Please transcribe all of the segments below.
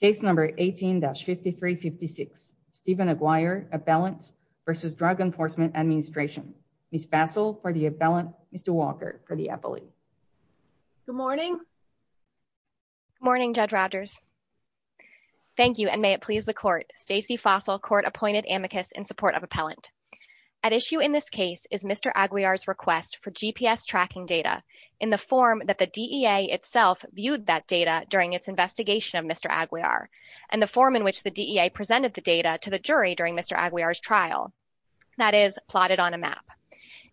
Case No. 18-5356, Stephen Aguiar, Appellant v. Drug Enforcement Administration. Ms. Fasol for the Appellant, Mr. Walker for the Appellant. Good morning. Good morning, Judge Rogers. Thank you and may it please the Court. Stacey Fasol, Court-Appointed Amicus in support of Appellant. At issue in this case is Mr. Aguiar's request for GPS tracking data in the form that the DEA itself viewed that data during its investigation of Mr. Aguiar and the form in which the DEA presented the data to the jury during Mr. Aguiar's trial, that is plotted on a map.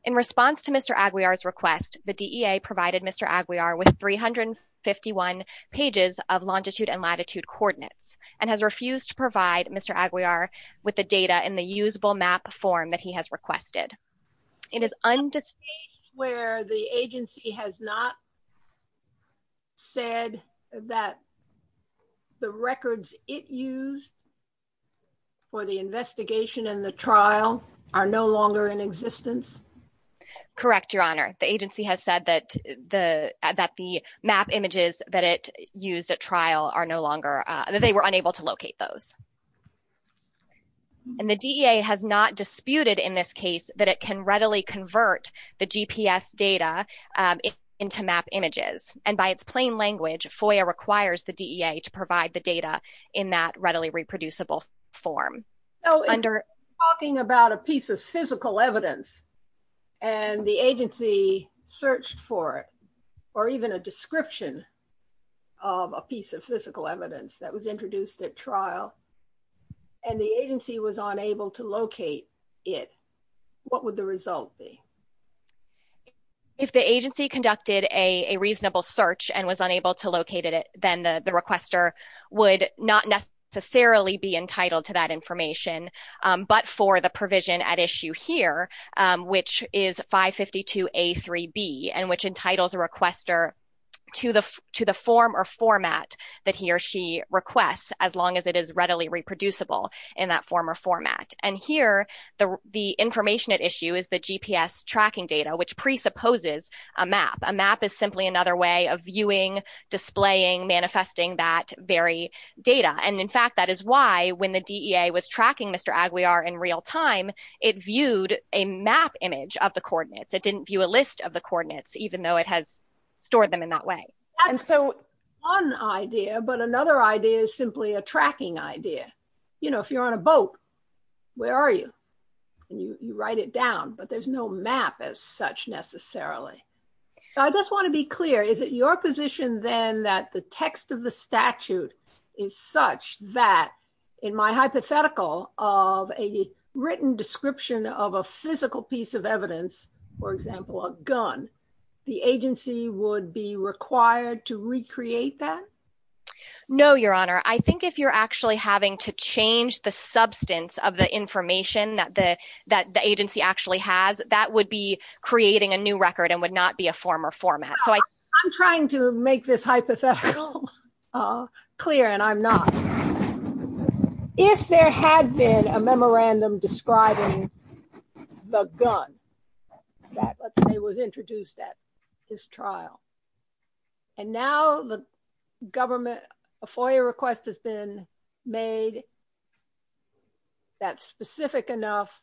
In response to Mr. Aguiar's request, the DEA provided Mr. Aguiar with 351 pages of longitude and latitude coordinates and has refused to provide Mr. Aguiar with the data in the usable map form that he has requested. It is undisputed where the agency has not said that the records it used for the investigation and the trial are no longer in existence? Correct, Your Honor. The agency has said that the map images that it used at trial are no longer, that they were unable to locate those and the DEA has not disputed in this case that it can readily convert the GPS data into map images. And by its plain language, FOIA requires the DEA to provide the data in that readily reproducible form. Talking about a piece of physical evidence and the agency searched for it or even a description of a piece of physical evidence that was introduced at trial and the agency was unable to locate it, what would the result be? If the agency conducted a reasonable search and was unable to locate it, then the requester would not necessarily be entitled to that information, but for the provision at issue here, which is 552A3B and which entitles a requester to the form or format that he or she requests as long as it is readily reproducible in that form or format. And here, the information at issue is the GPS tracking data, which presupposes a map. A map is simply another way of viewing, displaying, manifesting that very data. And in fact, that is why when the DEA was tracking Mr. Aguiar in real time, it viewed a map image of the coordinates. It didn't view a list of the coordinates, even though it has stored them in that way. And so one idea, but another idea is simply a tracking idea. You know, if you're on a map, where are you? And you write it down, but there's no map as such necessarily. So I just want to be clear, is it your position then that the text of the statute is such that in my hypothetical of a written description of a physical piece of evidence, for example, a gun, the agency would be required to recreate that? No, Your Honor. I think if you're actually having to change the substance of the information that the agency actually has, that would be creating a new record and would not be a former format. I'm trying to make this hypothetical clear, and I'm not. If there had been a memorandum describing the gun that was introduced at this trial, and now the government, a FOIA request has been made that's specific enough,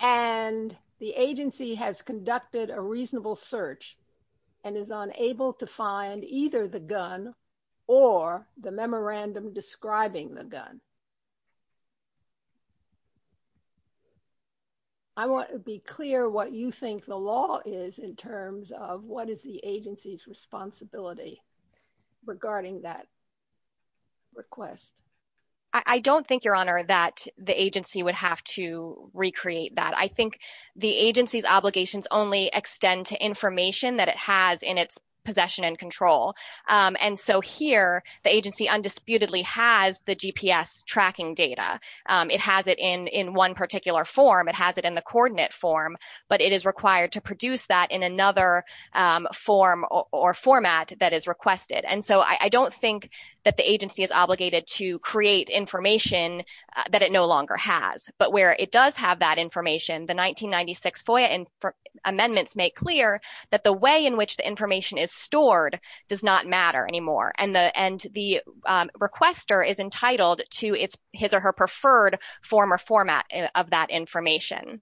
and the agency has conducted a reasonable search and is unable to find either the gun or the memorandum describing the gun. I want to be clear what you think the law is in terms of what is the agency's responsibility regarding that request. I don't think, Your Honor, that the agency would have to recreate that. I think the agency's obligations only extend to information that it has in its possession and control. And so here, the agency undisputedly has the GPS record, and so it would have to tracking data. It has it in one particular form. It has it in the coordinate form, but it is required to produce that in another form or format that is requested. And so I don't think that the agency is obligated to create information that it no longer has. But where it does have that information, the 1996 FOIA amendments make clear that the way in which the information is stored does not matter anymore, and the requester is entitled to his or her preferred form or format of that information.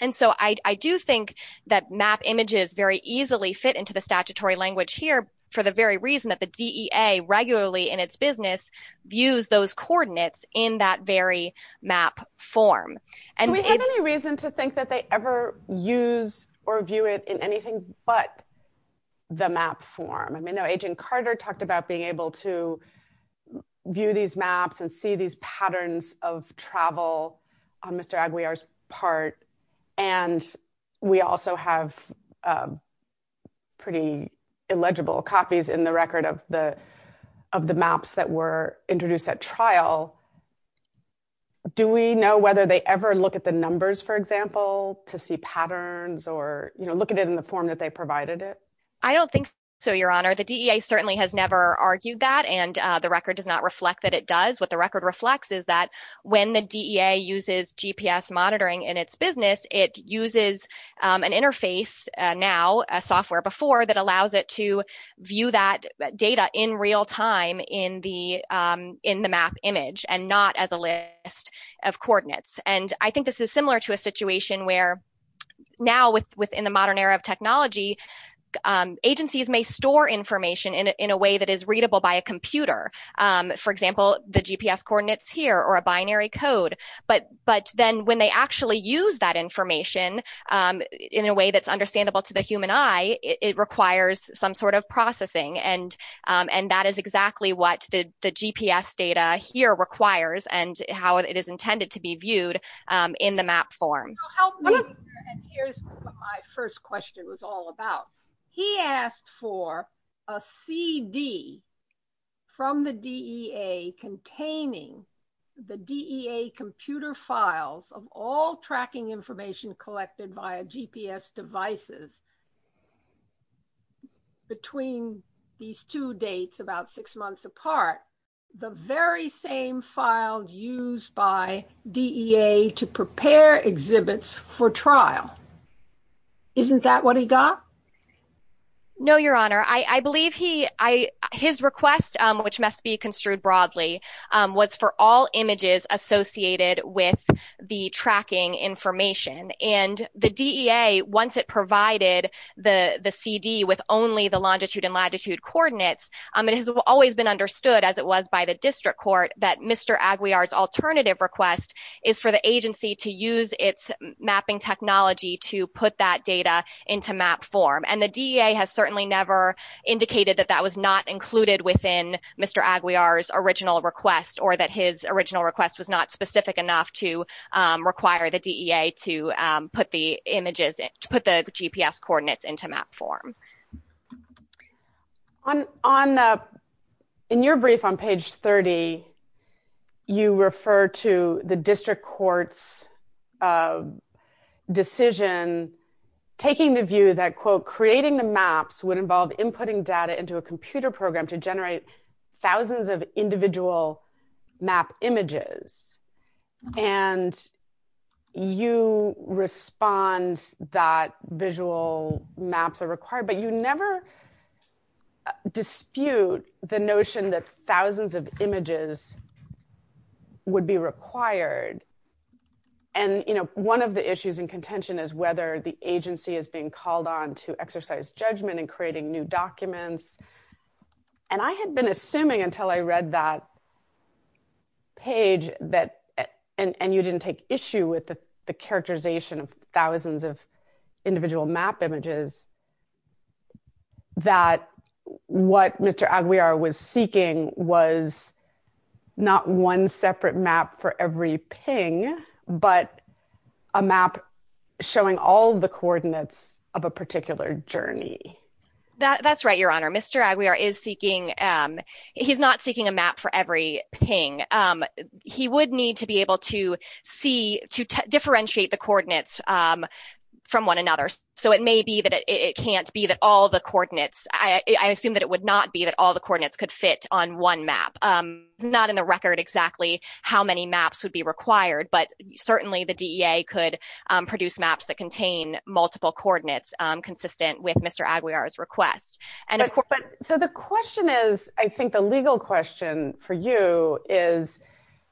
And so I do think that map images very easily fit into the statutory language here for the very reason that the DEA regularly in its business views those coordinates in that very map form. Do we have any reason to think that they ever use or view it in anything but the map form? I know Agent Carter talked about being able to view these maps and see these patterns of travel on Mr. Aguiar's part, and we also have pretty illegible copies in the record of the maps that were introduced at trial. Do we know whether they ever look at the numbers, for example, to see patterns or look at it in the form that they provided it? I don't think so, Your Honor. The DEA certainly has never argued that, and the record does not reflect that it does. What the record reflects is that when the DEA uses GPS monitoring in its business, it uses an interface now, a software before, that allows it to view that data in real time in the map image and not as a list of coordinates. And I think this is similar to a situation where now within the modern era of technology, agencies may store information in a way that is readable by a computer, for example, the GPS coordinates here or a binary code, but then when they actually use that information in a way that's understandable to the human eye, it requires some sort of processing, and that is exactly what the GPS data here requires and how it is intended to be viewed in the map form. Help me, and here's what my first question was all about. He asked for a CD from the DEA containing the DEA computer files of all the exhibits. Between these two dates, about six months apart, the very same files used by DEA to prepare exhibits for trial. Isn't that what he got? No, Your Honor. I believe his request, which must be construed broadly, was for all images associated with the tracking information, and the DEA, once it provided the CD with only the longitude and latitude coordinates, it has always been understood, as it was by the district court, that Mr. Aguiar's alternative request is for the agency to use its mapping technology to put that data into map form, and the DEA has certainly never indicated that that was not included within Mr. Aguiar's original request or that his original request was not specific enough to require the DEA to put the images, put the GPS coordinates into map form. In your brief on page 30, you refer to the district court's decision taking the view that, quote, creating the maps would inputting data into a computer program to generate thousands of individual map images, and you respond that visual maps are required, but you never dispute the notion that thousands of images would be required, and, you know, one of the issues in contention is whether the agency is being called on to exercise judgment in creating new documents, and I had been assuming until I read that page that, and you didn't take issue with the characterization of thousands of individual map images, that what Mr. Aguiar was seeking was not one separate map for every ping, but a map showing all the coordinates of a particular journey. That's right, Your Honor. Mr. Aguiar is seeking, he's not seeking a map for every ping. He would need to be able to see, to differentiate the coordinates from one another, so it may be that it can't be that all the coordinates, I assume that it would not be that all the coordinates could fit on one map, not in the record exactly how many maps would be required, but certainly the DEA could produce maps that contain multiple coordinates consistent with Mr. Aguiar's request. So the question is, I think the legal question for you is,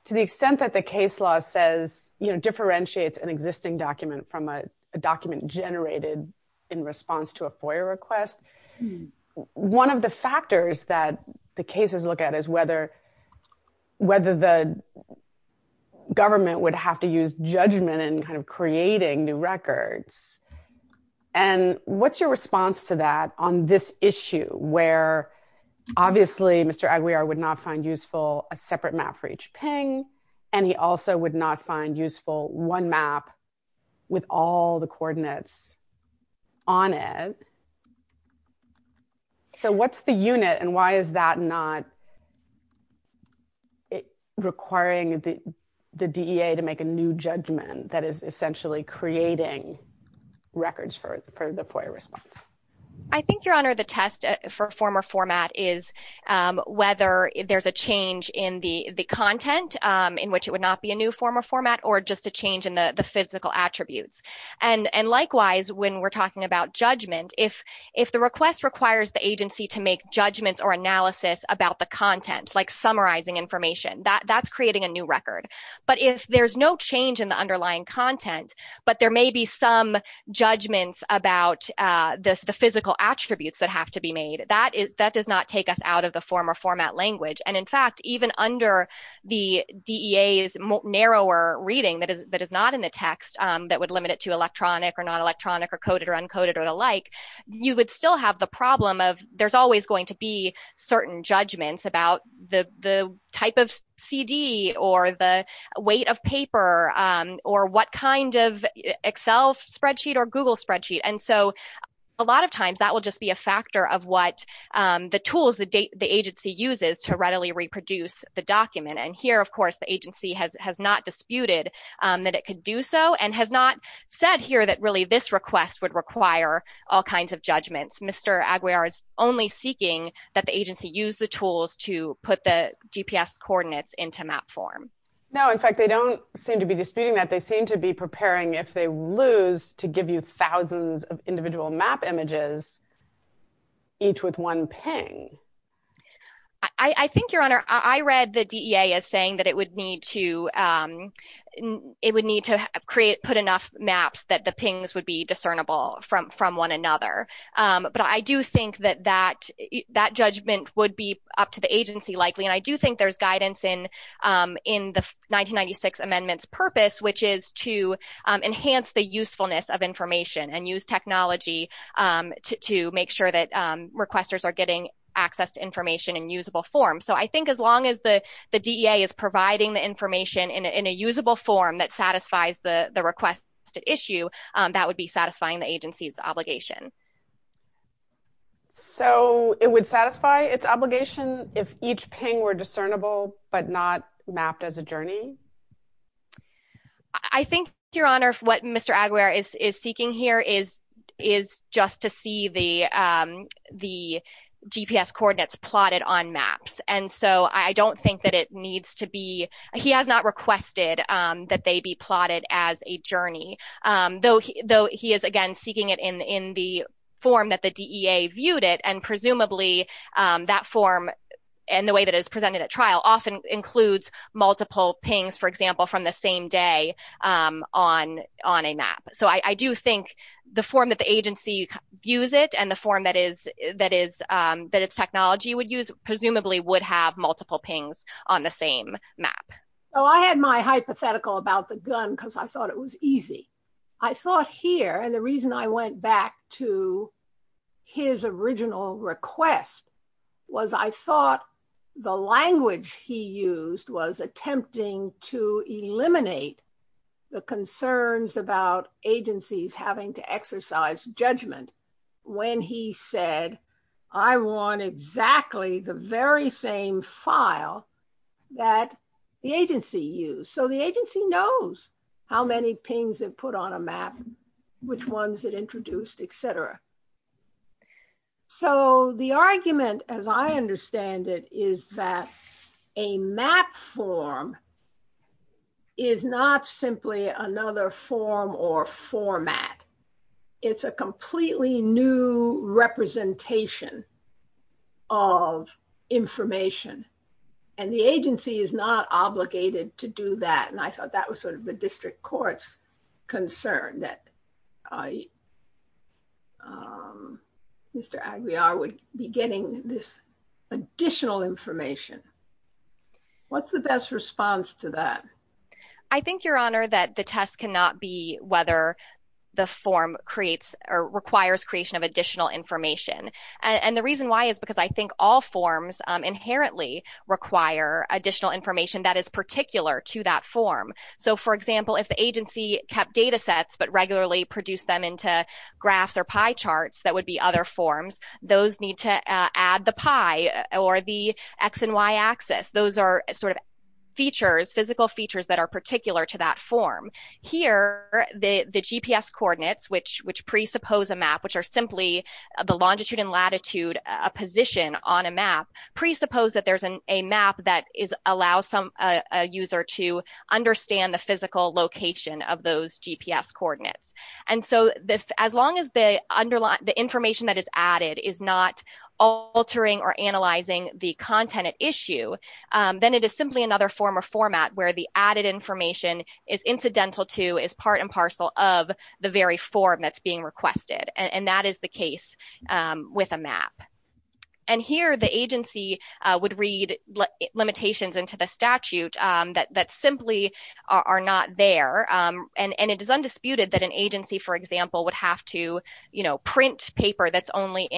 to the extent that the case law says, you know, differentiates an existing document from a document generated in response to a FOIA request, one of the factors that the cases look at is whether the government would have to use judgment in kind of creating new records. And what's your response to that on this issue, where obviously Mr. Aguiar would not find useful a separate map for each ping, and he also would not find useful one map with all the coordinates on it. So what's the unit and why is that not requiring the DEA to make a new judgment that is essentially creating records for the FOIA response? I think, Your Honor, the test for former format is whether there's a change in the content in which it would not be a new former format or just a change in the physical attributes. And likewise, when we're talking about judgment, if the request requires the agency to make judgments or analysis about the content, like summarizing information, that's creating a new record. But if there's no change in the underlying content, but there may be some judgments about the physical attributes that have to be made, that does not take us out of the former format language. And in fact, even under the DEA's narrower reading that is not in the text that would limit it to electronic or non-electronic or coded or uncoded or the like, you would still have the problem of there's always going to be certain judgments about the type of CD or the weight of paper or what kind of Excel spreadsheet or Google spreadsheet. And so a lot of times that will just be a factor of what the tools that the agency uses to readily reproduce the document. And here, of course, the agency has not disputed that it could do so and has not said here that really this request would require all kinds of judgments. Mr. Aguiar is only seeking that the agency use the tools to put the GPS coordinates into map form. No, in fact, they don't seem to be disputing that. They seem to be preparing, if they lose, to give you thousands of individual map images, each with one ping. I think, Your Honor, I read the DEA as saying that it would need to put enough maps that the pings would be discernible from one another. But I do think that that judgment would be up to the agency, likely. And I do think there's guidance in the 1996 amendment's purpose, which is to enhance the usefulness of information and use technology to make sure that requesters are getting access to information in usable form. So I think as long as the DEA is providing the information in a usable form that satisfies the request issue, that would be satisfying the agency's obligation. So it would satisfy its obligation if each ping were discernible but not mapped as a journey? I think, Your Honor, what Mr. Aguiar is seeking here is just to see the GPS coordinates plotted on maps. He has not requested that they be plotted as a journey, though he is, again, seeking it in the form that the DEA viewed it. And presumably, that form and the way that it is presented at trial often includes multiple pings, for example, from the same day on a map. So I do think the form that the agency views it and the form that its technology would use presumably would have multiple pings on the same map. So I had my hypothetical about the gun because I thought it was easy. I thought here, and the reason I went back to his original request was I thought the language he used was attempting to eliminate the concerns about agencies having to exercise judgment when he said, I want exactly the very same file that the agency used. So the agency knows how many pings it put on a map, which ones it introduced, et cetera. So the argument, as I understand it, is that a map form is not simply another form or format. It's a completely new representation of information. And the agency is not obligated to do that. And I thought that was sort of the district court's concern that I, Mr. Aguiar, would be getting this additional information. What's the best response to that? I think, Your Honor, that the test cannot be whether the form creates or requires creation of additional information. And the reason why is because I think all forms inherently require additional information that is particular to that form. So, for example, if the agency kept data sets but regularly produced them into graphs or pie charts that would be other forms, those need to add the pie or the X and Y axis. Those are sort of physical features that are particular to that form. Here, the GPS coordinates, which presuppose a map, which are simply the longitude and latitude position on a map, presuppose that there's a map that allows a user to understand the physical location of those GPS coordinates. And so, as long as the information that is added is not altering or analyzing the content at issue, then it is simply another form or format where the added information is incidental to, is part and parcel of the very form that's being requested. And that is the case with a map. And here, the agency would read limitations into the statute that simply are not there. And it is undisputed that an agency, for example, would have to, you know, print paper that's only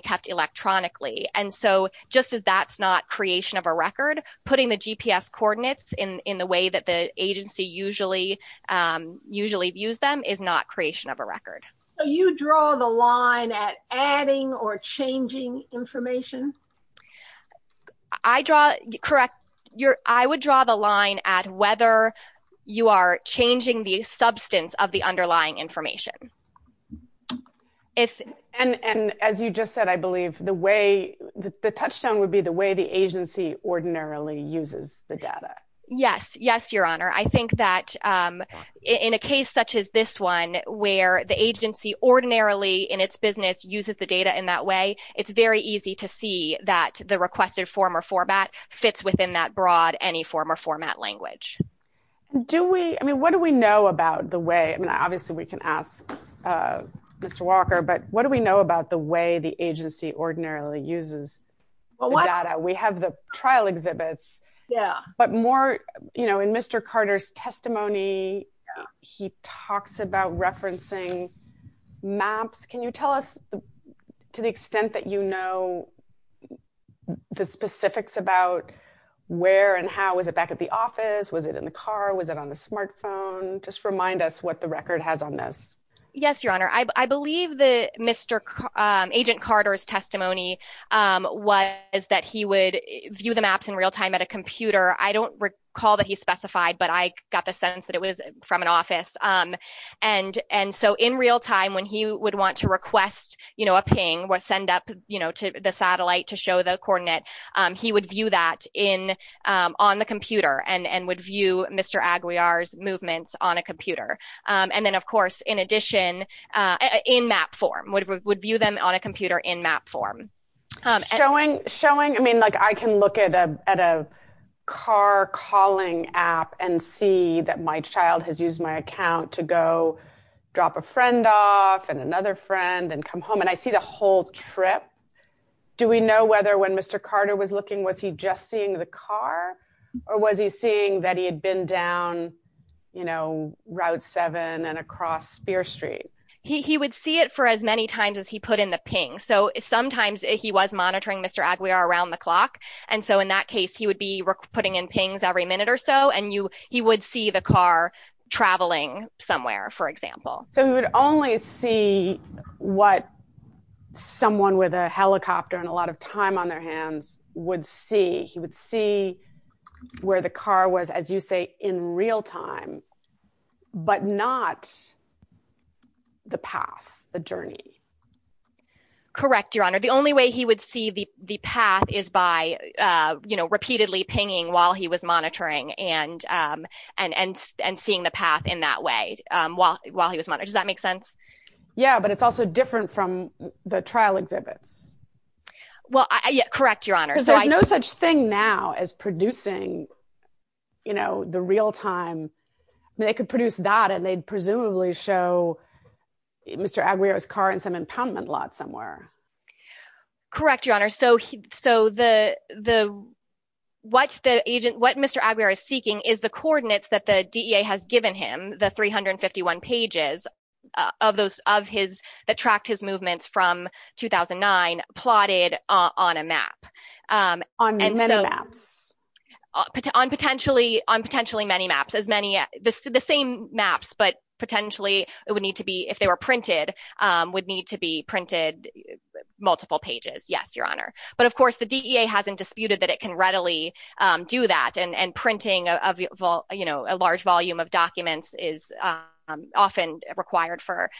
kept electronically. And so, just as that's not creation of a record, putting the GPS coordinates in the way that the agency usually views them is not creation of a record. So, you draw the line at adding or changing information? Correct. I would draw the line at whether you are changing the substance of the underlying information. And as you just said, I believe the way, the touchdown would be the way the agency ordinarily uses the data. Yes. Yes, Your Honor. I think that in a case such as this where the agency ordinarily in its business uses the data in that way, it's very easy to see that the requested form or format fits within that broad, any form or format language. Do we, I mean, what do we know about the way, I mean, obviously we can ask Mr. Walker, but what do we know about the way the agency ordinarily uses the data? We have the trial exhibits. Yeah. But more, you know, in Mr. Carter's testimony, he talks about referencing maps. Can you tell us to the extent that you know the specifics about where and how, was it back at the office? Was it in the car? Was it on the smartphone? Just remind us what the record has on this. Yes, Your Honor. I believe that Mr. Agent Carter's testimony was that he would view the maps in real time at a computer. I don't recall that he specified, but I got the sense that it was from an office. And so in real time, when he would want to request, you know, a ping, what send up, you know, to the satellite to show the coordinate, he would view that in on the computer and would view Mr. Aguiar's movements on a computer. And then of course, in addition, in map form, would view them on a computer in map form. Showing, I mean, like I can look at a car calling app and see that my child has used my account to go drop a friend off and another friend and come home. And I see the whole trip. Do we know whether when Mr. Carter was looking, was he just seeing the car or was he seeing that he had been down, you know, route seven and across Spear Street? He would see it for as many times as he put in the ping. So sometimes he was monitoring Mr. Aguiar around the clock. And so in that case, he would be putting in pings every minute or so. And he would see the car traveling somewhere, for example. So he would only see what someone with a helicopter and a lot of time on their hands would see. He would see where the car was, as you say, in real time, but not the path, the journey. Correct, Your Honor. The only way he would see the path is by, you know, repeatedly pinging while he was monitoring and seeing the path in that way while he was monitoring. Does that make sense? Yeah, but it's also different from the trial exhibit. Well, correct, Your Honor. There's no such thing now as producing, you know, the real time. They could produce that and they'd presumably show Mr. Aguiar's car in some impoundment lot somewhere. Correct, Your Honor. So what Mr. Aguiar is seeking is the coordinates that the DEA has given him, the 351 pages of his, that tracked his movements from 2009, plotted on a map. On many maps? On potentially many maps. The same maps, but potentially it would need to be, if they were printed, would need to be printed multiple pages. Yes, Your Honor. But, of course, the DEA hasn't disputed that it can readily do that and printing a large volume of documents is often required for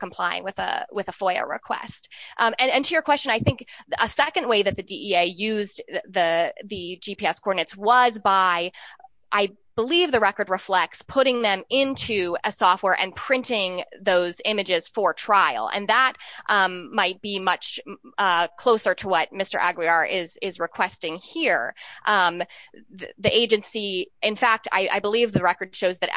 complying with a FOIA request. And to your question, I think a second way that the DEA used the GPS coordinates was by, I believe the record reflects, putting them into a software and printing those images for trial. And that might be much closer to what Mr. Aguiar is requesting here. The agency, in fact, I believe the record shows that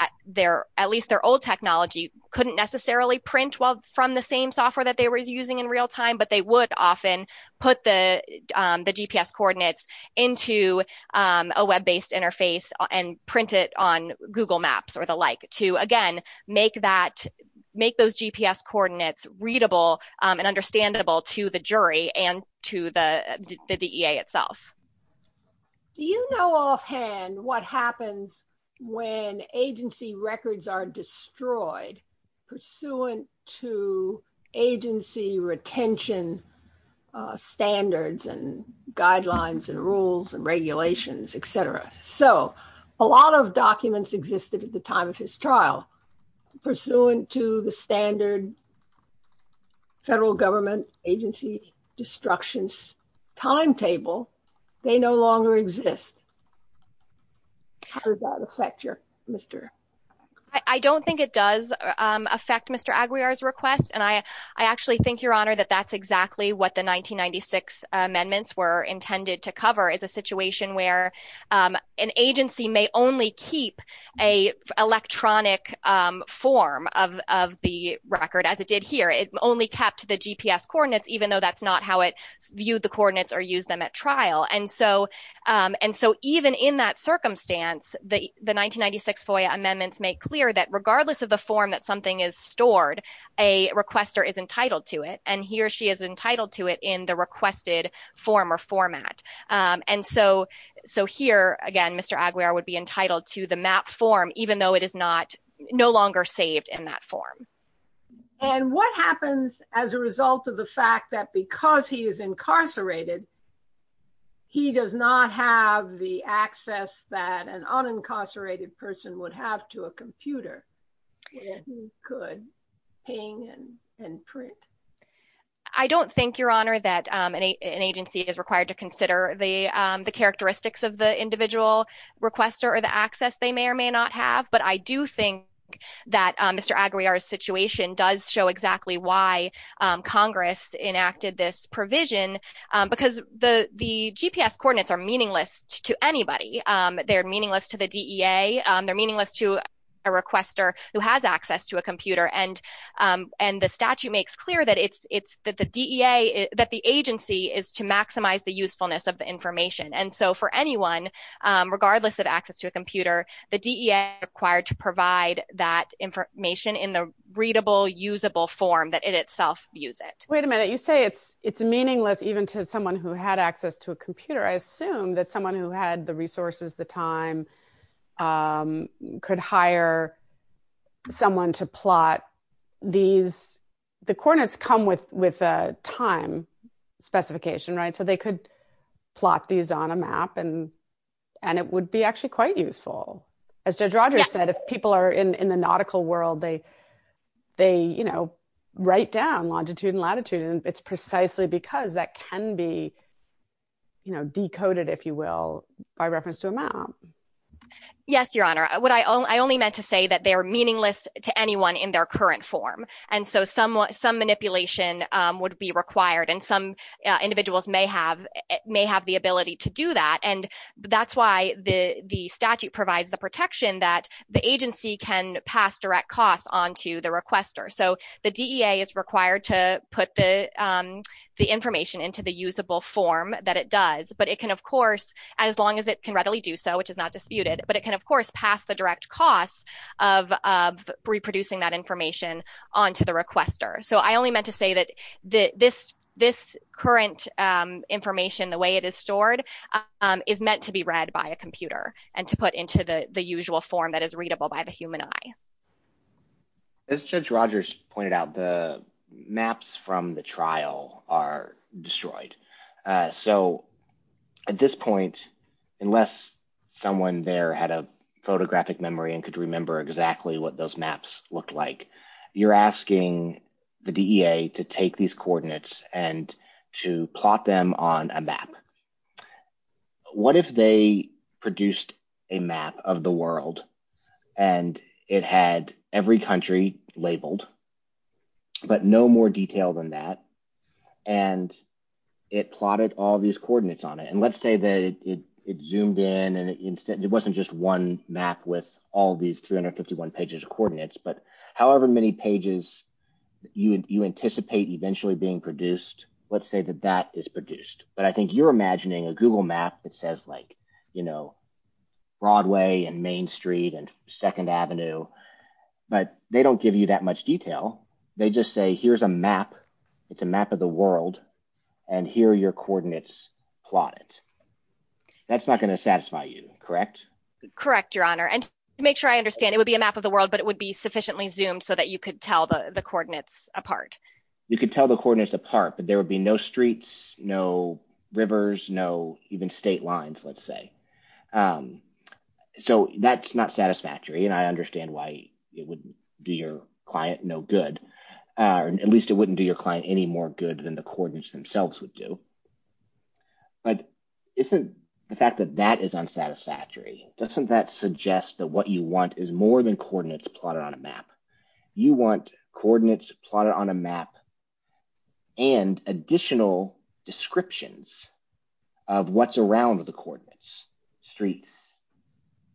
at least their old technology couldn't necessarily print from the same software that they were using in real time, but they would often put the GPS coordinates into a web-based interface and print it on Google Maps or the like to, again, make those GPS coordinates readable and understandable to the jury and to the DEA itself. Do you know offhand what happens when agency records are destroyed pursuant to agency retention standards and guidelines and rules and regulations, etc.? So, a lot of documents existed at the time of his trial. Pursuant to the standard federal government agency destructions timetable, they no longer exist. How does that affect your, Mr.? I don't think it does affect Mr. Aguiar's request and I actually think, Your Honor, that that's exactly what the 1996 amendments were intended to cover is a situation where an agency may only keep an electronic form of the record as it did here. It only kept the GPS coordinates even though that's not how it viewed the coordinates or used them at trial. And so, even in that circumstance, the 1996 FOIA amendments make clear that regardless of the form that something is stored, a requester is entitled to it and he or she is entitled to it in the requested form or format. And so, here, again, Mr. Aguiar would be entitled to the map form even though it is no longer saved in that form. And what happens as a result of the fact that because he is incarcerated, he does not have the access that an unincarcerated person would have to a computer if he could ping and print? I don't think, Your Honor, that an agency is required to consider the characteristics of the individual requester or the access they may or may not have, but I do think that Mr. Aguiar's situation does show exactly why Congress enacted this provision because the GPS coordinates are meaningless to anybody. They're meaningless to the DEA. They're meaningless to a requester who has access to a computer, and the statute makes clear that the agency is to maximize the usefulness of the information. And so, for anyone, regardless of access to a computer, the DEA is required to provide that information in the readable, usable form that it itself views it. Wait a minute. You say it's meaningless even to someone who had access to a computer. I assume that someone who had the resources, the time, could hire someone to plot these. The coordinates come with a time specification, right? So, they could plot these on a map, and it would be actually quite useful. As Judge Rogers said, if people are in the nautical world, they write down longitude and latitude, and it's precisely because that can be decoded, if you will, by reference to a map. Yes, Your Honor. I only meant to say that they are meaningless to anyone in their current form, and so some manipulation would be required, and some individuals may have the ability to do that, and that's why the statute provides the protection that the agency can pass direct costs onto the requester. So, the DEA is into the usable form that it does, but it can, of course, as long as it can readily do so, which is not disputed, but it can, of course, pass the direct cost of reproducing that information onto the requester. So, I only meant to say that this current information, the way it is stored, is meant to be read by a computer and to put into the usual form that is readable by the human eye. As Judge Rogers pointed out, the maps from the trial are destroyed. So, at this point, unless someone there had a photographic memory and could remember exactly what those maps looked like, you're asking the DEA to take these coordinates and to plot them on a map. What if they produced a map of the world and it had every country labeled, but no more detail than that, and it plotted all these coordinates on it, and let's say that it zoomed in and it wasn't just one map with all these 351 pages of coordinates, but however many pages you anticipate eventually being produced, let's say that that is produced, but I think you're imagining a Google map that says like, you know, Broadway and Main Street and Second Avenue, but they don't give you that much detail. They just say, here's a map. It's a map of the world, and here are your coordinates plotted. That's not going to satisfy you, correct? Correct, Your Honor, and to make sure I understand, it would be a map of the world, but it would be sufficiently zoomed so that you could tell the coordinates apart, but there would be no streets, no rivers, no even state lines, let's say, so that's not satisfactory, and I understand why it wouldn't do your client no good, or at least it wouldn't do your client any more good than the coordinates themselves would do, but isn't the fact that that is unsatisfactory? Doesn't that suggest that what you want is more coordinates plotted on a map? You want coordinates plotted on a map and additional descriptions of what's around the coordinates, streets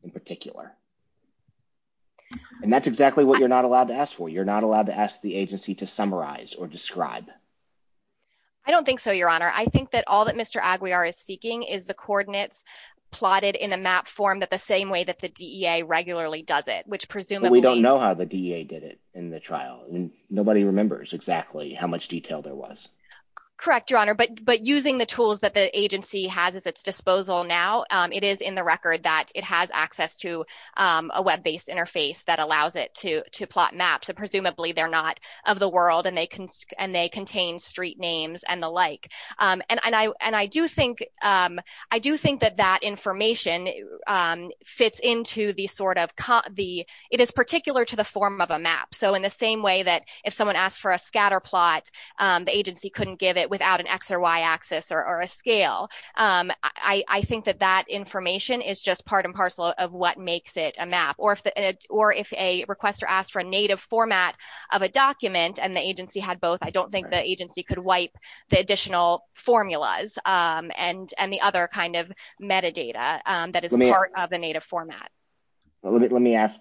in particular, and that's exactly what you're not allowed to ask for. You're not allowed to ask the agency to summarize or describe. I don't think so, Your Honor. I think that all that Mr. Aguiar is seeking is the coordinates plotted in a map form that the same way that the DEA regularly does it, but we don't know how the DEA did it in the trial. Nobody remembers exactly how much detail there was. Correct, Your Honor, but using the tools that the agency has at its disposal now, it is in the record that it has access to a web-based interface that allows it to plot maps, so presumably they're not of the world and they contain street names and the like, and I do think I do think that that information fits into the sort of, it is particular to the form of a map, so in the same way that if someone asks for a scatter plot, the agency couldn't give it without an X or Y axis or a scale. I think that that information is just part and parcel of what makes it a map, or if a requester asked for a native format of a document and the agency had both, I don't think the agency could wipe the additional formulas and the other kind of metadata that is part of the native format. Let me ask,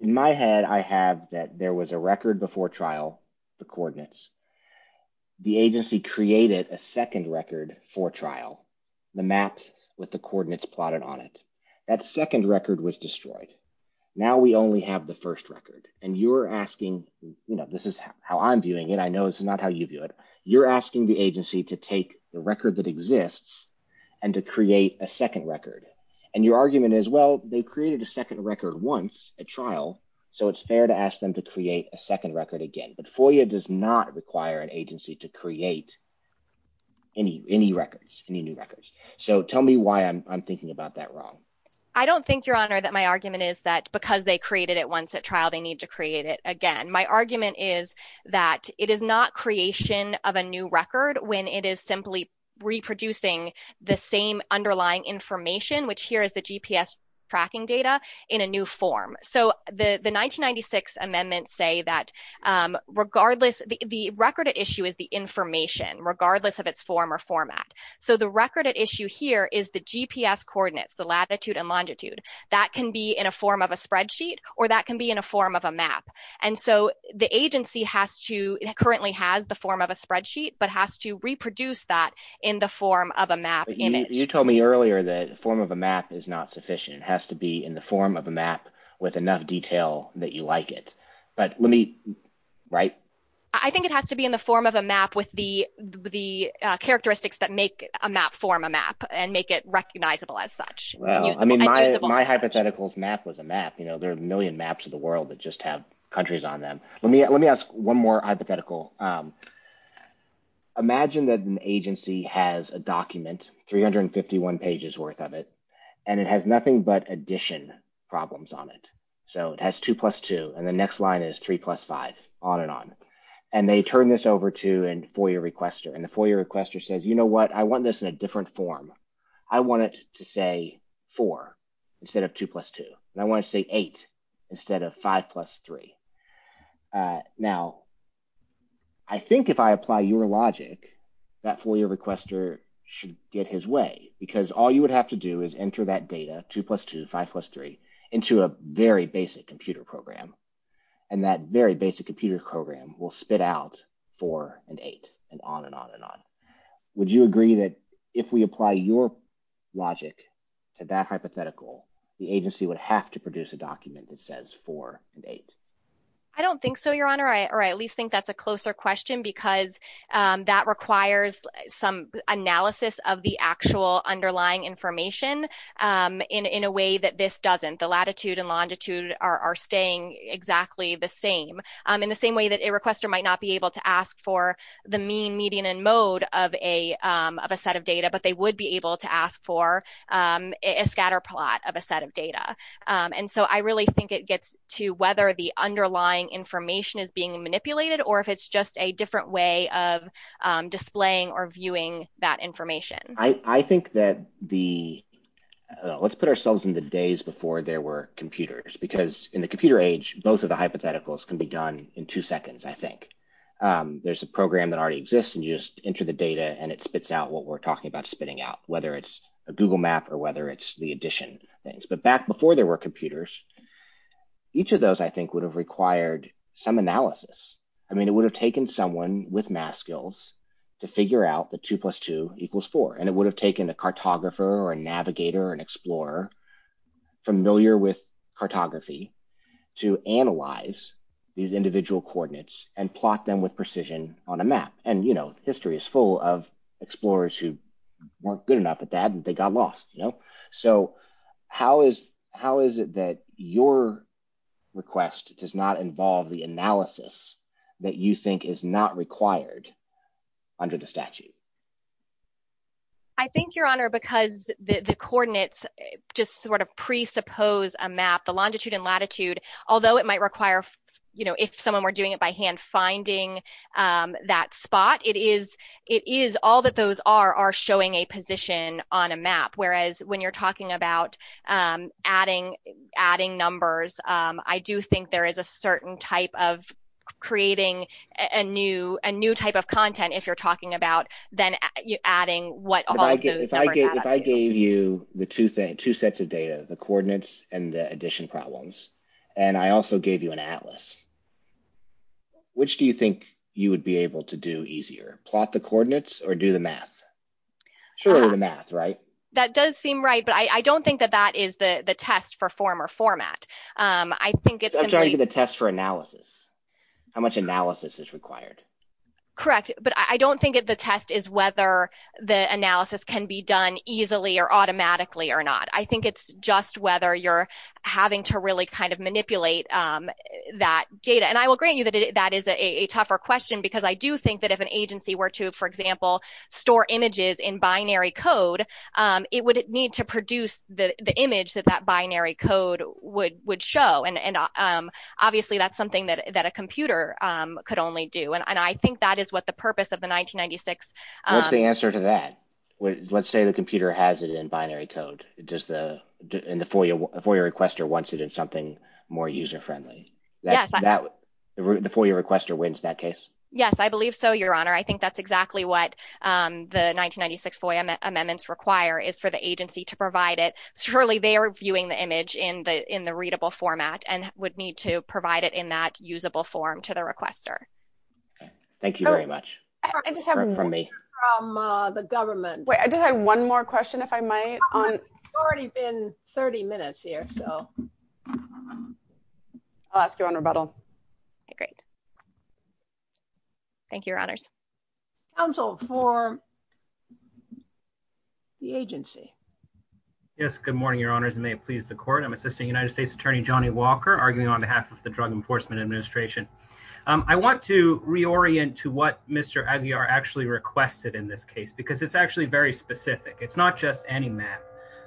in my head I have that there was a record before trial, the coordinates. The agency created a second record for trial, the maps with the coordinates plotted on it. That second record was destroyed. Now we only have the first record, and you're asking, you know, this is how I'm doing it. I know this is not how you do it. You're asking the agency to take the record that exists and to create a second record, and your argument is, well, they created a second record once at trial, so it's fair to ask them to create a second record again, but FOIA does not require an agency to create any records, any new records, so tell me why I'm thinking about that wrong. I don't think, Your Honor, that my argument is that because they created it once at trial, they need to create it again. My argument is that it is not creation of a new record when it is simply reproducing the same underlying information, which here is the GPS tracking data, in a new form. The 1996 amendments say that the record at issue is the information, regardless of its form or format. The record at issue is the information, regardless of its form or format. The agency currently has the form of a spreadsheet, but has to reproduce that in the form of a map. You told me earlier that the form of a map is not sufficient. It has to be in the form of a map with enough detail that you like it, but let me, right? I think it has to be in the form of a map with the characteristics that make a map form a map and make it recognizable as such. Well, I mean, my hypothetical map was a map. You know, there are a million maps of the world that just have countries on them. Let me ask one more hypothetical. Imagine that an agency has a document, 351 pages worth of it, and it has nothing but addition problems on it. So it has 2 plus 2, and the next line is 3 plus 5, on and on, and they turn this over to a FOIA requester, and the FOIA requester says, you know what, I want this in a different form. I want it to say 4 instead of 2 plus 2, and I want to say 8 instead of 5 plus 3. Now, I think if I apply your logic, that FOIA requester should get his way, because all you would have to do is enter that data, 2 plus 2, 5 plus 3, into a very basic computer program, and that very basic computer program will spit out 4 and 8 and on and on and on. Would you agree that if we apply your logic to that hypothetical, the agency would have to produce a document that says 4 and 8? I don't think so, Your Honor, or I at least think that's a closer question, because that requires some analysis of the actual underlying information in a way that this doesn't. The latitude and longitude are staying exactly the same, in the same way that a requester might not be able to ask for the mean, median, and mode of a set of data, but they would be able to ask for a scatter plot of a set of data, and so I really think it gets to whether the underlying information is being manipulated, or if it's just a different way of displaying or viewing that information. Let's put ourselves in the days before there were computers, because in the computer age, both of the hypotheticals can be done in two seconds, I think. There's a program that already exists, and you just enter the data, and it spits out what we're talking about spitting out, whether it's a Google map or whether it's the addition things, but back before there were computers, each of those, I think, would have required some analysis. I mean, it would have taken someone with math skills to figure out that 2 plus 2 equals 4, and it would have taken a cartography to analyze these individual coordinates and plot them with precision on a map, and, you know, history is full of explorers who weren't good enough at that, and they got lost, you know, so how is, how is it that your request does not involve the analysis that you think is not required under the statute? I think, Your Honor, because the coordinates just sort of presuppose a map, the longitude and latitude, although it might require, you know, if someone were doing it by hand, finding that spot, it is, it is, all that those are are showing a position on a map, whereas when you're talking about adding numbers, I do think there is a certain type of creating a new type of content, if you're talking about then adding what I get, if I gave you the two sets of data, the coordinates and the addition problems, and I also gave you an atlas, which do you think you would be able to do easier, plot the coordinates or do the math? Surely the math, right? That does seem right, but I don't think that that is the test for form or format. I think it's a test for analysis, how much analysis is required. Correct, but I don't think that the test is whether the analysis can be done easily or automatically or not. I think it's just whether you're having to really kind of manipulate that data, and I will grant you that that is a tougher question, because I do think that if an agency were to, for example, store images in binary code, it would need to produce the image that that do, and I think that is what the purpose of the 1996... What's the answer to that? Let's say the computer has it in binary code, and the FOIA requester wants it in something more user-friendly. The FOIA requester wins that case? Yes, I believe so, Your Honor. I think that's exactly what the 1996 FOIA amendments require is for the agency to provide it. Surely they are viewing the image in the readable format and would need to provide it in that usable form to the requester. Thank you very much. I just have a question from the government. Wait, I just have one more question, if I might. It's already been 30 minutes here, so... I'll ask you on rebuttal. Okay, great. Thank you, Your Honors. Counsel for the agency. Yes, good morning, Your Honors, and may it please the Court. I'm Assisting United States Attorney Johnny Walker, arguing on behalf of the Drug Enforcement Administration. I want to reorient to what Mr. Aguiar actually requested in this case, because it's actually very specific. It's not just any map.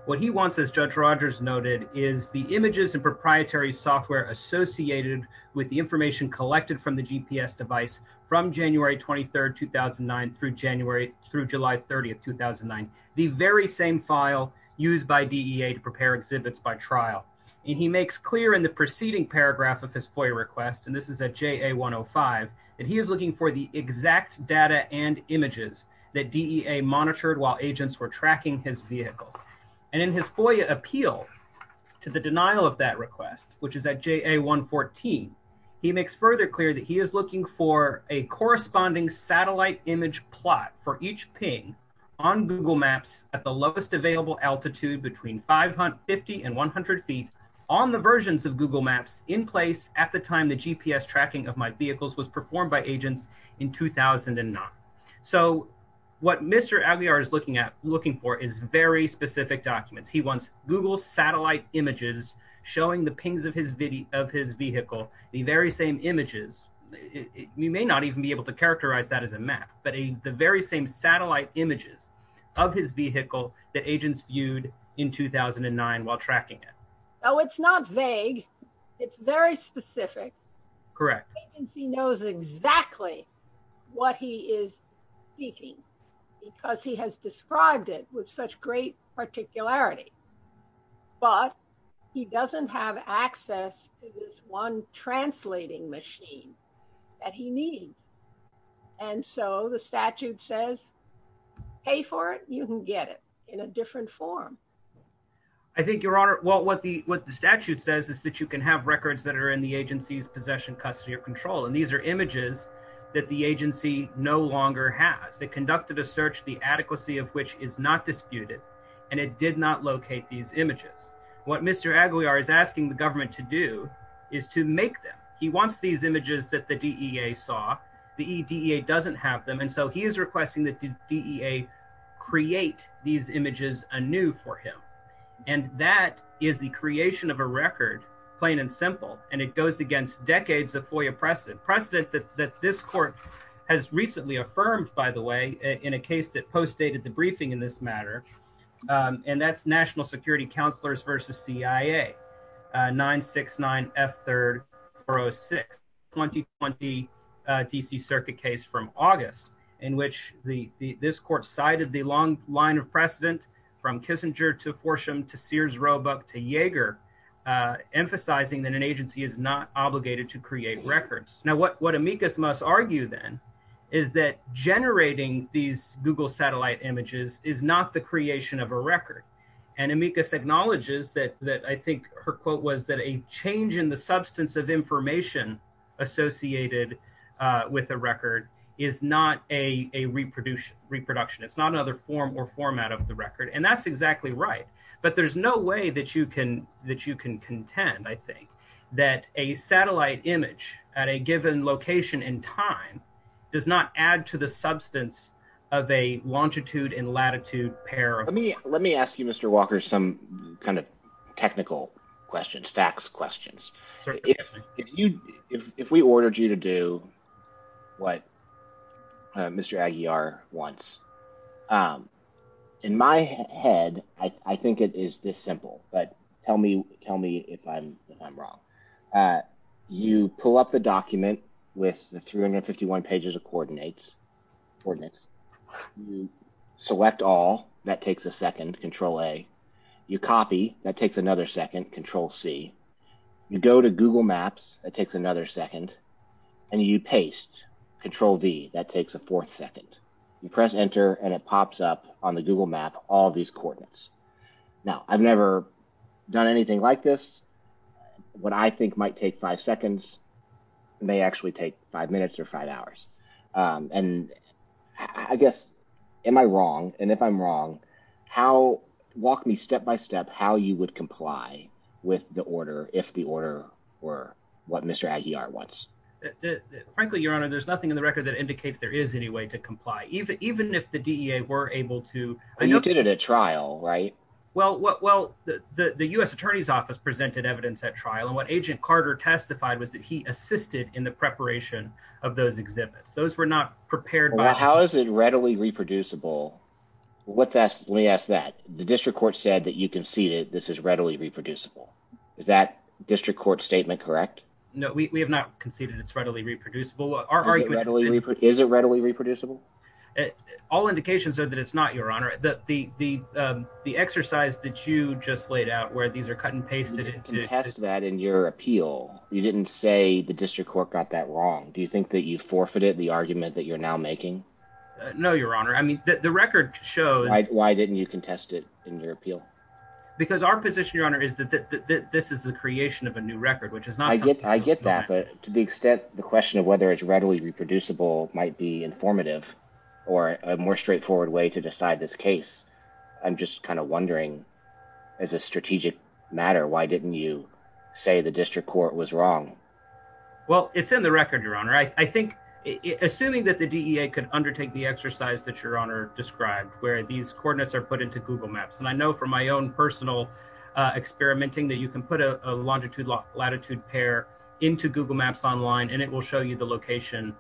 What he wants, as Judge Rogers noted, is the images and proprietary software associated with the information collected from the GPS device from January 23rd, 2009 through July 30th, 2009, the very same file used by DEA to prepare exhibits by trial. And he makes clear in the preceding paragraph of his FOIA request, and this is at JA-105, that he is looking for the exact data and images that DEA monitored while agents were tracking his vehicle. And in his FOIA appeal to the denial of that request, which is at JA-114, he makes further clear that he is looking for a corresponding satellite image plot for each ping on Google Maps at the lowest available altitude between 550 and 100 feet on the versions of Google Maps in place at the time the GPS tracking of my vehicles was performed by agents in 2009. So what Mr. Aguiar is looking for is very specific documents. He wants Google satellite images showing the pings of his vehicle, the very same images. He may not even be able to characterize that as a map, but the very same satellite images of his vehicle that agents viewed in 2009 while tracking it. Oh, it's not vague. It's very specific. Correct. He knows exactly what he is seeking because he has described it with such great particularity, but he doesn't have access to this one translating machine that he needs. And so the statute says, pay for it. You can get it in a different form. I think your honor, well, what the statute says is that you can have records that are in the agency's possession, custody, or control. And these are images that the agency no longer has. They conducted a search, the adequacy of which is not disputed, and it did not locate these images. What Mr. Aguiar is asking the government to do is to make them. He wants these images that the DEA saw. The DEA doesn't have them, and so he is requesting that the DEA create these images anew for him. And that is the creation of a record, plain and simple, and it goes against decades of FOIA precedent, precedent that this court has recently affirmed, by the way, in a case that postdated the briefing in this matter, and that's National Security Counselors versus CIA, 969F306, 2020 D.C. Circuit case from August, in which this court cited the long line of precedent from Kissinger to Forsham to Sears Roebuck to Yeager, emphasizing that an agency is not obligated to create records. Now what amicus must argue then is that generating these Google satellite images is not the creation of a record. And amicus acknowledges that I think her quote was that a change in the substance of information associated with a record is not a reproduction. It's not another form or format of the record, and that's exactly right. But there's no way that you can contend, I think, that a time does not add to the substance of a longitude and latitude pair. Let me ask you, Mr. Walker, some kind of technical questions, facts questions. If we ordered you to do what Mr. Aguiar wants, in my head, I think it is this simple, but the 351 pages of coordinates, select all, that takes a second, control A. You copy, that takes another second, control C. You go to Google Maps, that takes another second, and you paste, control V, that takes a fourth second. You press enter, and it pops up on the Google Map all these coordinates. Now, I've never done anything like this. What I think might take five seconds may actually take five minutes or five hours. And I guess, am I wrong? And if I'm wrong, walk me step by step how you would comply with the order if the order were what Mr. Aguiar wants. Frankly, Your Honor, there's nothing in the record that indicates there is any way to comply, even if the DEA were able to- You did it at trial, right? Well, the U.S. Attorney's Office presented evidence at trial, and what Agent Carter testified was that he assisted in the preparation of those exhibits. Those were not prepared- How is it readily reproducible? Let me ask that. The district court said that you conceded this is readily reproducible. Is that district court statement correct? No, we have not conceded it's readily reproducible. Our argument- Is it readily reproducible? All indications are that it's not, Your Honor. The exercise that you just laid out where these are cut and pasted- You contest that in your appeal. You didn't say the district court got that wrong. Do you think that you forfeited the argument that you're now making? No, Your Honor. I mean, the record shows- Why didn't you contest it in your appeal? Because our position, Your Honor, is that this is the creation of a new record, which is not- I get that, but to the extent the question of whether it's readily reproducible might be or a more straightforward way to decide this case, I'm just kind of wondering as a strategic matter, why didn't you say the district court was wrong? Well, it's in the record, Your Honor. I think- Assuming that the DEA could undertake the exercise that Your Honor described where these coordinates are put into Google Maps, and I know from my own personal experimenting that you can put a longitude-latitude pair into Google Maps online, and it will show you the location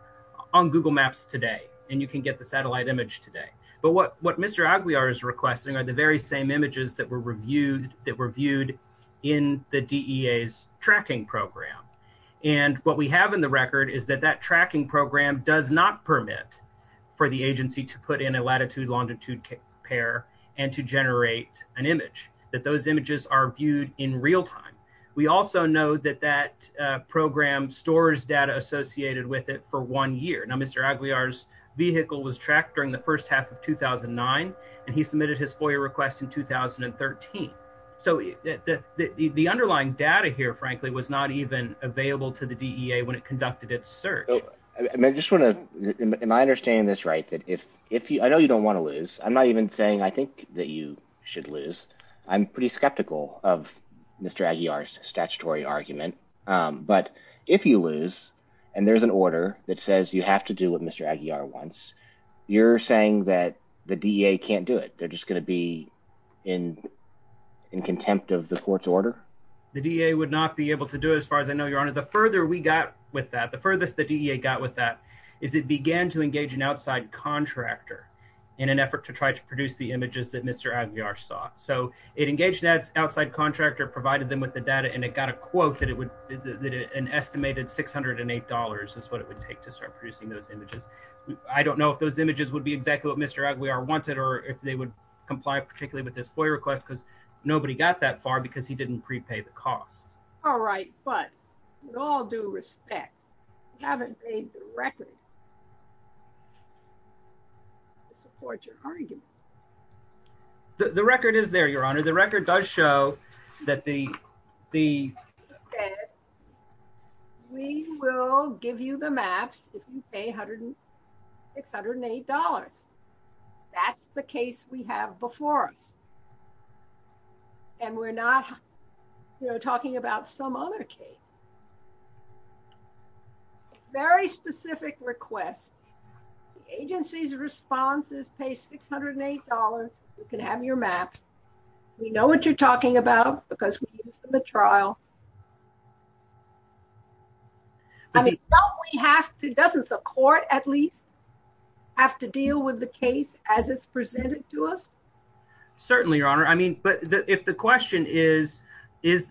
on Google Maps today, and you can get the satellite image today. But what Mr. Aguiar is requesting are the very same images that were viewed in the DEA's tracking program. And what we have in the record is that that tracking program does not permit for the agency to put in a latitude-longitude pair and to generate an image, that those images are viewed in real time. We also know that that program stores data associated with it for one year. Now, Mr. Aguiar's vehicle was tracked during the first half of 2009, and he submitted his FOIA request in 2013. So the underlying data here, frankly, was not even available to the DEA when it conducted its search. I just want to- Am I understanding this right? I know you don't want to lose. I'm not even saying I think that you should lose. I'm pretty skeptical of Mr. Aguiar's statutory argument. But if you lose and there's an order that says you have to do what Mr. Aguiar wants, you're saying that the DEA can't do it? They're just going to be in contempt of the court's order? The DEA would not be able to do it as far as I know, Your Honor. The further we got with that, the furthest the DEA got with that is it began to engage an outside contractor in an effort to try to produce the images that Mr. Aguiar sought. So it engaged that outside contractor, provided them with the data, and it got a quote that it would- an estimated $608 is what it would take to start producing those images. I don't know if those images would be exactly what Mr. Aguiar wanted, or if they would comply particularly with this FOIA request, because nobody got that far because he didn't prepay the cost. All right, but with all due respect, you haven't made the record. Support your argument. The record is there, Your Honor. The record does show that the- We will give you the maps if you pay $608. That's the case we have before us. And we're not, you know, talking about some other case. Very specific request. The agency's responses pay $608. You can have your maps. We know what you're talking about because we did this in the trial. I mean, don't we have to- doesn't the court at least have to deal with the case as it's presented to us? Certainly, Your Honor. I mean, but if the question is,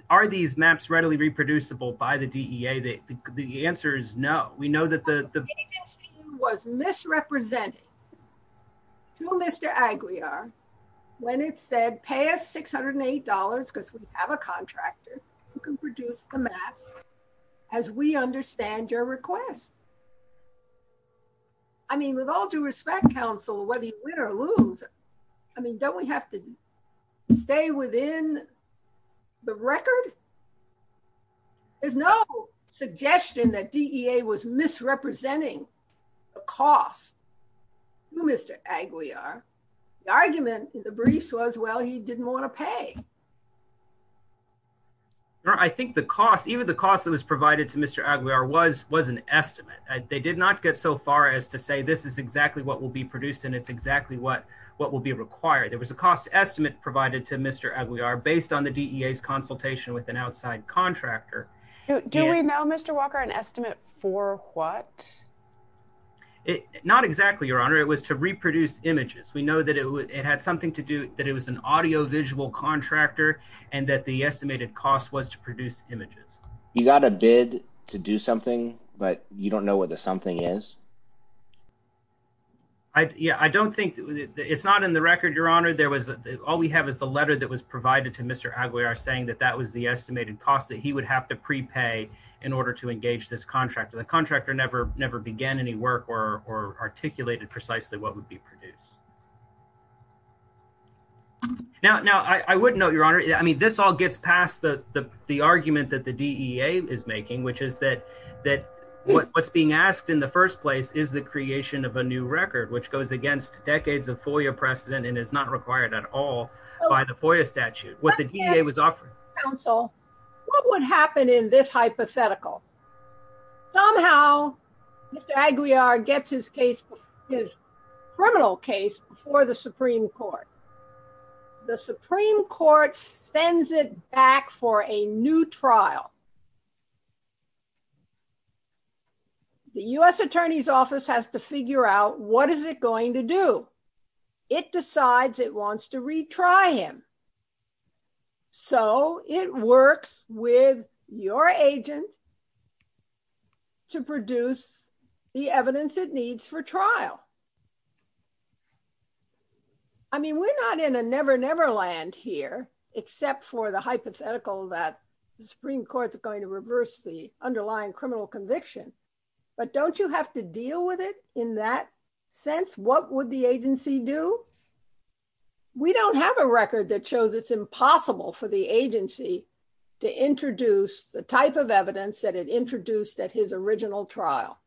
are these maps readily reproducible by the DEA, the answer is no. We know that the- The agency was misrepresented to Mr. Aguiar when it said, pay us $608 because we have a contractor who can produce the map as we I mean, don't we have to stay within the record? There's no suggestion that DEA was misrepresenting the cost to Mr. Aguiar. The argument in the brief was, well, you didn't want to pay. I think the cost, even the cost that was provided to Mr. Aguiar was an estimate. They did not get so far as to say, this is exactly what will be produced and it's exactly what will be required. It was a cost estimate provided to Mr. Aguiar based on the DEA's consultation with an outside contractor. Do we know, Mr. Walker, an estimate for what? Not exactly, Your Honor. It was to reproduce images. We know that it had something to do- that it was an audiovisual contractor and that the estimated cost was to produce images. You got a bid to do something, but you don't know whether something is? Yeah, I don't think- it's not in the record, Your Honor. There was- all we have is the letter that was provided to Mr. Aguiar saying that that was the estimated cost that he would have to prepay in order to engage this contractor. The contractor never began any work or articulated precisely what would be produced. Now, I wouldn't know, Your Honor. I mean, this all gets past the argument that the DEA is making, which is that what's being asked in the first place is the creation of a new record, which goes against decades of FOIA precedent and is not required at all by the FOIA statute. What the DEA was offering- Counsel, what would happen in this hypothetical? Somehow, Mr. Aguiar gets his case- his criminal case before the Supreme Court. The Supreme Court sends it back for a new trial. The U.S. Attorney's Office has to figure out what is it going to do. It decides it wants to retry him. So, it works with your agent to produce the evidence it needs for trial. I mean, we're not in a never-never land here, except for the hypothetical that the Supreme Court is going to reverse the underlying criminal conviction. But don't you have to deal with it in that sense? What would the agency do? We don't have a record that shows it's impossible for the agency to introduce the type of evidence that it introduced at his original trial.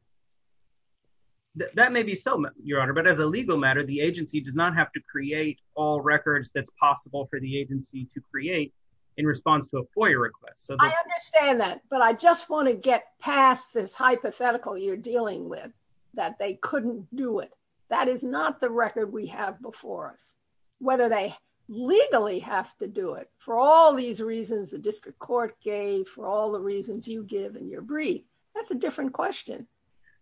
That may be so, Your Honor, but as a legal matter, the agency does not have to create all records that's possible for the agency to create in response to a FOIA request. I understand that, but I just want to get past this hypothetical you're dealing with, that they couldn't do it. That is not the record we have before us. Whether they legally have to do it for all these reasons the district court gave, for all the reasons you give in your brief, that's a different question.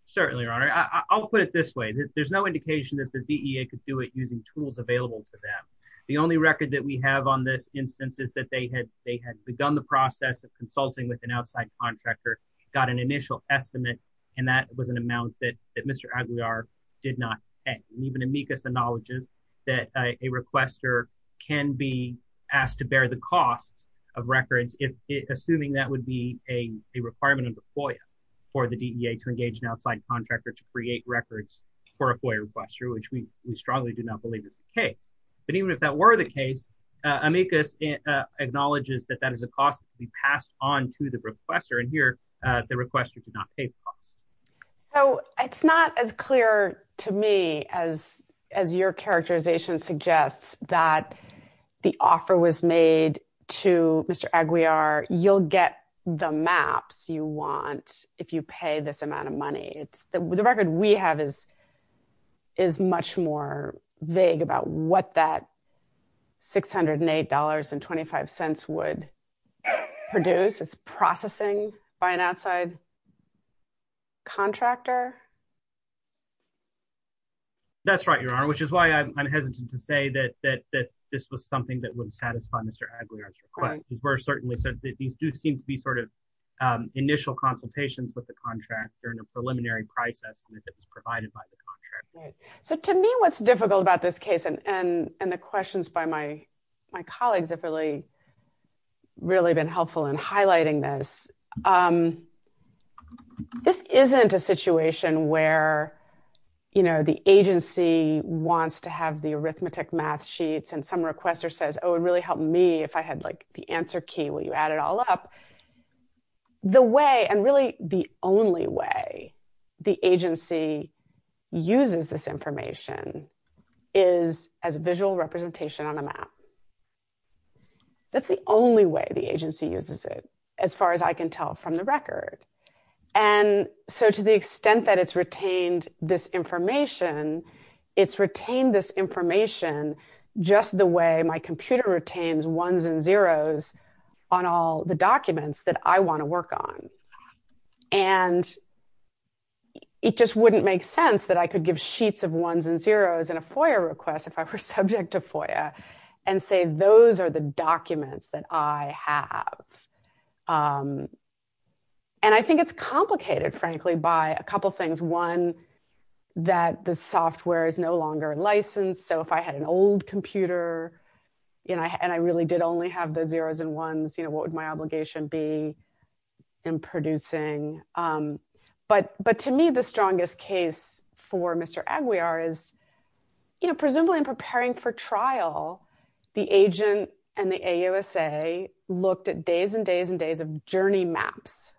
Certainly, Your Honor. I'll put it this way. There's no indication that the DEA could do it using tools available to them. The only record that we have on this instance is that they had begun the process of consulting with an outside contractor, got an initial estimate, and that was an amount that Mr. Aguiar did not pay. Even amicus acknowledges that a requester can be asked to bear the cost of records, assuming that would be a requirement of the FOIA for the DEA to engage an outside contractor to create records for a FOIA requester, which we strongly do not believe is the case. Even if that were the case, amicus acknowledges that that is a cost to be passed on to the requester. Here, the requester did not pay the cost. It's not as clear to me as your characterization suggests that the offer was made to Mr. Aguiar. You'll get the maps you want if you pay this amount of money. The record we have is much more vague about what that $608.25 would produce. It's processing by an outside contractor. That's right, Your Honor, which is why I'm hesitant to say that this was something that would satisfy Mr. Aguiar's request. We're certainly sensitive. These do seem to be sort of initial consultations with the contractor in a preliminary process provided by the contractor. Right. So, to me, what's difficult about this case, and the questions by my colleagues have really been helpful in highlighting this, this isn't a situation where, you know, the agency wants to have the arithmetic math sheets and some requester says, oh, it would really help me if I had, like, the answer key where you add it all up. The way, and really the only way, the agency uses this information is as visual representation on a map. That's the only way the agency uses it, as far as I can tell from the record. And so, to the extent that it's retained this information, it's retained this information just the way my computer retains ones and zeros on all the documents that I want to work on. And it just wouldn't make sense that I could give sheets of ones and zeros in a FOIA request if I were subject to FOIA and say those are the documents that I have. And I think it's complicated, frankly, by a couple of things. One, that the software is no longer licensed. So, if I had an old computer, you know, and I really did only have the zeros and ones, you know, what would my obligation be in producing? But to me, the strongest case for Mr. Aguiar is, you know, presumably in preparing for trial, the agent and the AUSA looked at days and days and days of journey maps.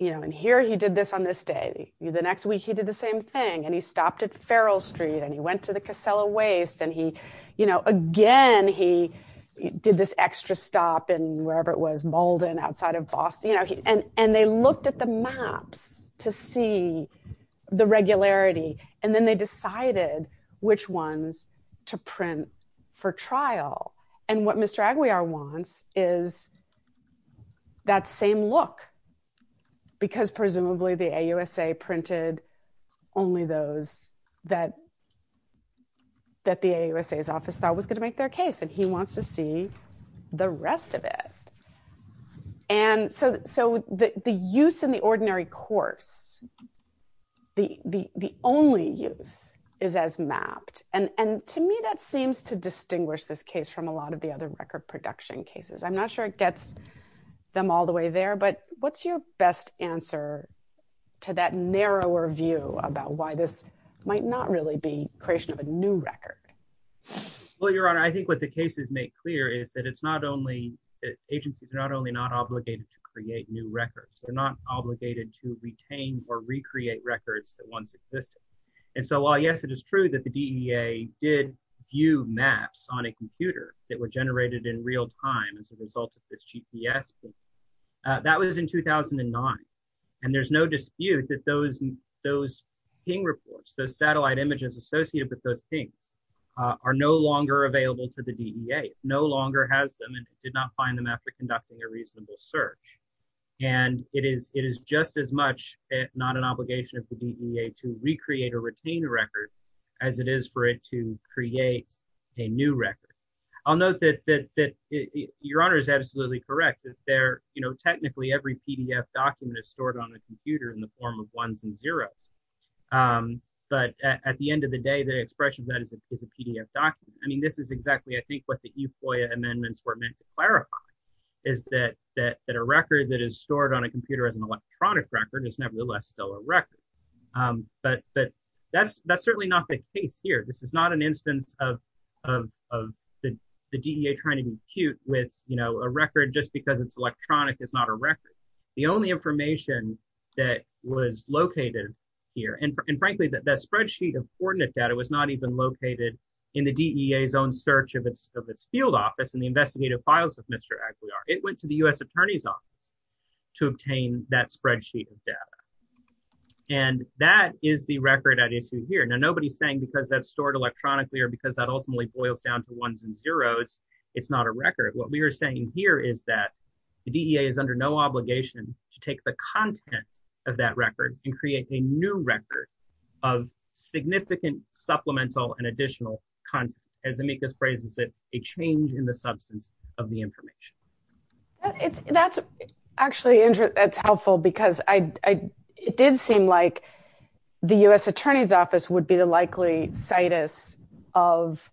You know, and here he did this on this day. The next week, he did the same thing. And he stopped at Farrell Street and he went to the Casella Waste and he, you know, again, he did this extra stop in wherever it was, Malden, outside of Boston, you know, and they looked at the maps to see the regularity. And then they decided which ones to print for trial. And what Mr. Aguiar wants is that same look because presumably the AUSA printed only those that that the AUSA's office thought was going to make their case and he wants to see the rest of it. And so, the use in the ordinary courts, the only use is as mapped. And to me, that seems to distinguish this case from a lot of the other record production cases. I'm not sure it gets them all the way there, but what's your best answer to that narrower view about why this might not really be creation of a new record? Well, Your Honor, I think what the cases make clear is that it's not only, agencies are not only not obligated to create new records, they're not obligated to retain or recreate records that once existed. And so, while yes, it is true that the DEA did view maps on a computer that were generated in real time as a result of this GPS system, that was in 2009. And there's no dispute that those ping reports, those satellite images associated with those pings are no longer available to the DEA, no longer has them and did not find them after conducting a reasonable search. And it is just as much, if not an obligation of the DEA to recreate or retain the record as it is for it to create a new record. I'll note that Your Honor is absolutely correct that there, you know, technically every PDF document is stored on a computer in the form of ones and zeros. But at the end of the day, the expression is that it's just a PDF document. I mean, this is exactly, I think what the E-FOIA amendments were meant to clarify is that a record that is stored on a computer as an electronic record is nevertheless still a record. But that's certainly not the case here. This is not an instance of the DEA trying to be cute with, you know, a record just because it's electronic is not a record. The only information that was located here, and frankly, that spreadsheet of coordinate data was not even located in the DEA's own search of its field office and the investigative files of Mr. Aguilar. It went to the U.S. Attorney's Office to obtain that spreadsheet of data. And that is the record at issue here. Now, nobody's saying because that's stored electronically or because that ultimately boils down to ones and zeros, it's not a record. What we are saying here is that the DEA is under no obligation to take the content of that record and create a new record of significant supplemental and additional content, as Amika phrases it, a change in the substance of the information. That's actually helpful because it did seem like the U.S. Attorney's Office would be the likely situs of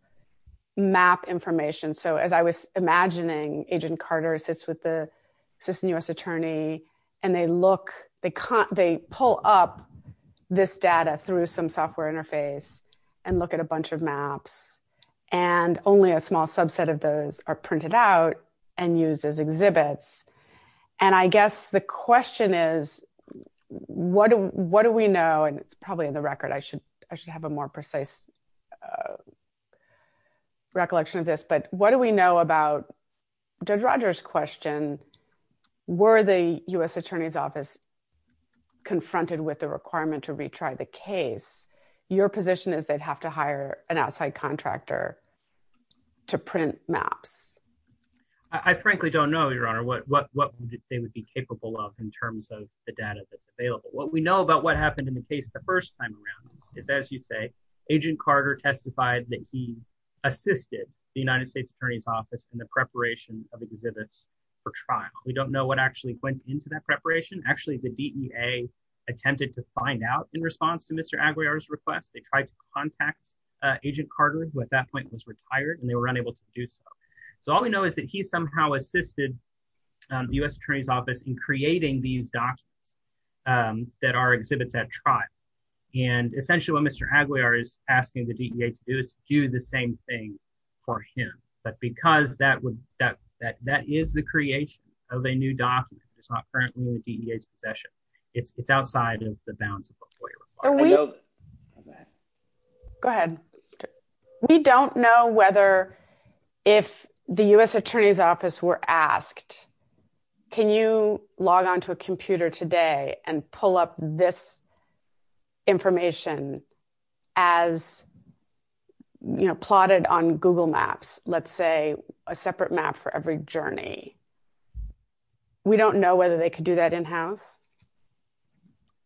map information. So, as I was imagining, Agent Carter sits with the Assistant U.S. Attorney, and they look, they pull up this data through some software interface and look at a bunch of maps. And only a small subset of those are printed out and used as exhibits. And I guess the question is, what do we know, and probably in the record I should have a more precise recollection of this, but what do we know about Judge Rogers' question, were the U.S. Attorney's Office confronted with the requirement to retry the case? Your position is they'd have to hire an outside contractor to print maps. I frankly don't know, Your Honor, what they would be capable of in terms of the data that's Agent Carter testified that he assisted the United States Attorney's Office in the preparation of the exhibits for trial. We don't know what actually went into that preparation. Actually, the DEA attempted to find out in response to Mr. Aguiar's request. They tried to contact Agent Carter, who at that point was retired, and they were unable to do so. So, all we know is that he somehow assisted the U.S. Attorney's Office in creating these docs that are exhibits at trial. And essentially what Mr. Aguiar is asking the DEA to do is do the same thing for him. But because that is the creation of a new document that's not currently in the DEA's possession, it's outside of the bounds of a court order. Go ahead. We don't know whether if the U.S. Attorney's Office were asked, can you log onto a computer today and pull up this information as plotted on Google Maps, let's say, a separate map for every journey. We don't know whether they could do that in-house.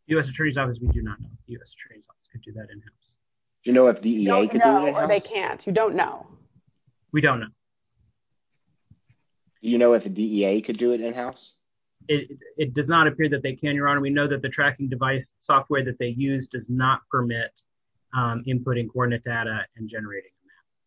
U.S. Attorney's Office, we do not know if the U.S. Attorney's Office could do that in-house. Do you know if the DEA could do that in-house? No, we don't know if they can't. We don't know. We don't know. Do you know if the DEA could do it in-house? It does not appear that they can, Your Honor. We know that the tracking device software that they use does not permit inputting coordinate data and generating maps.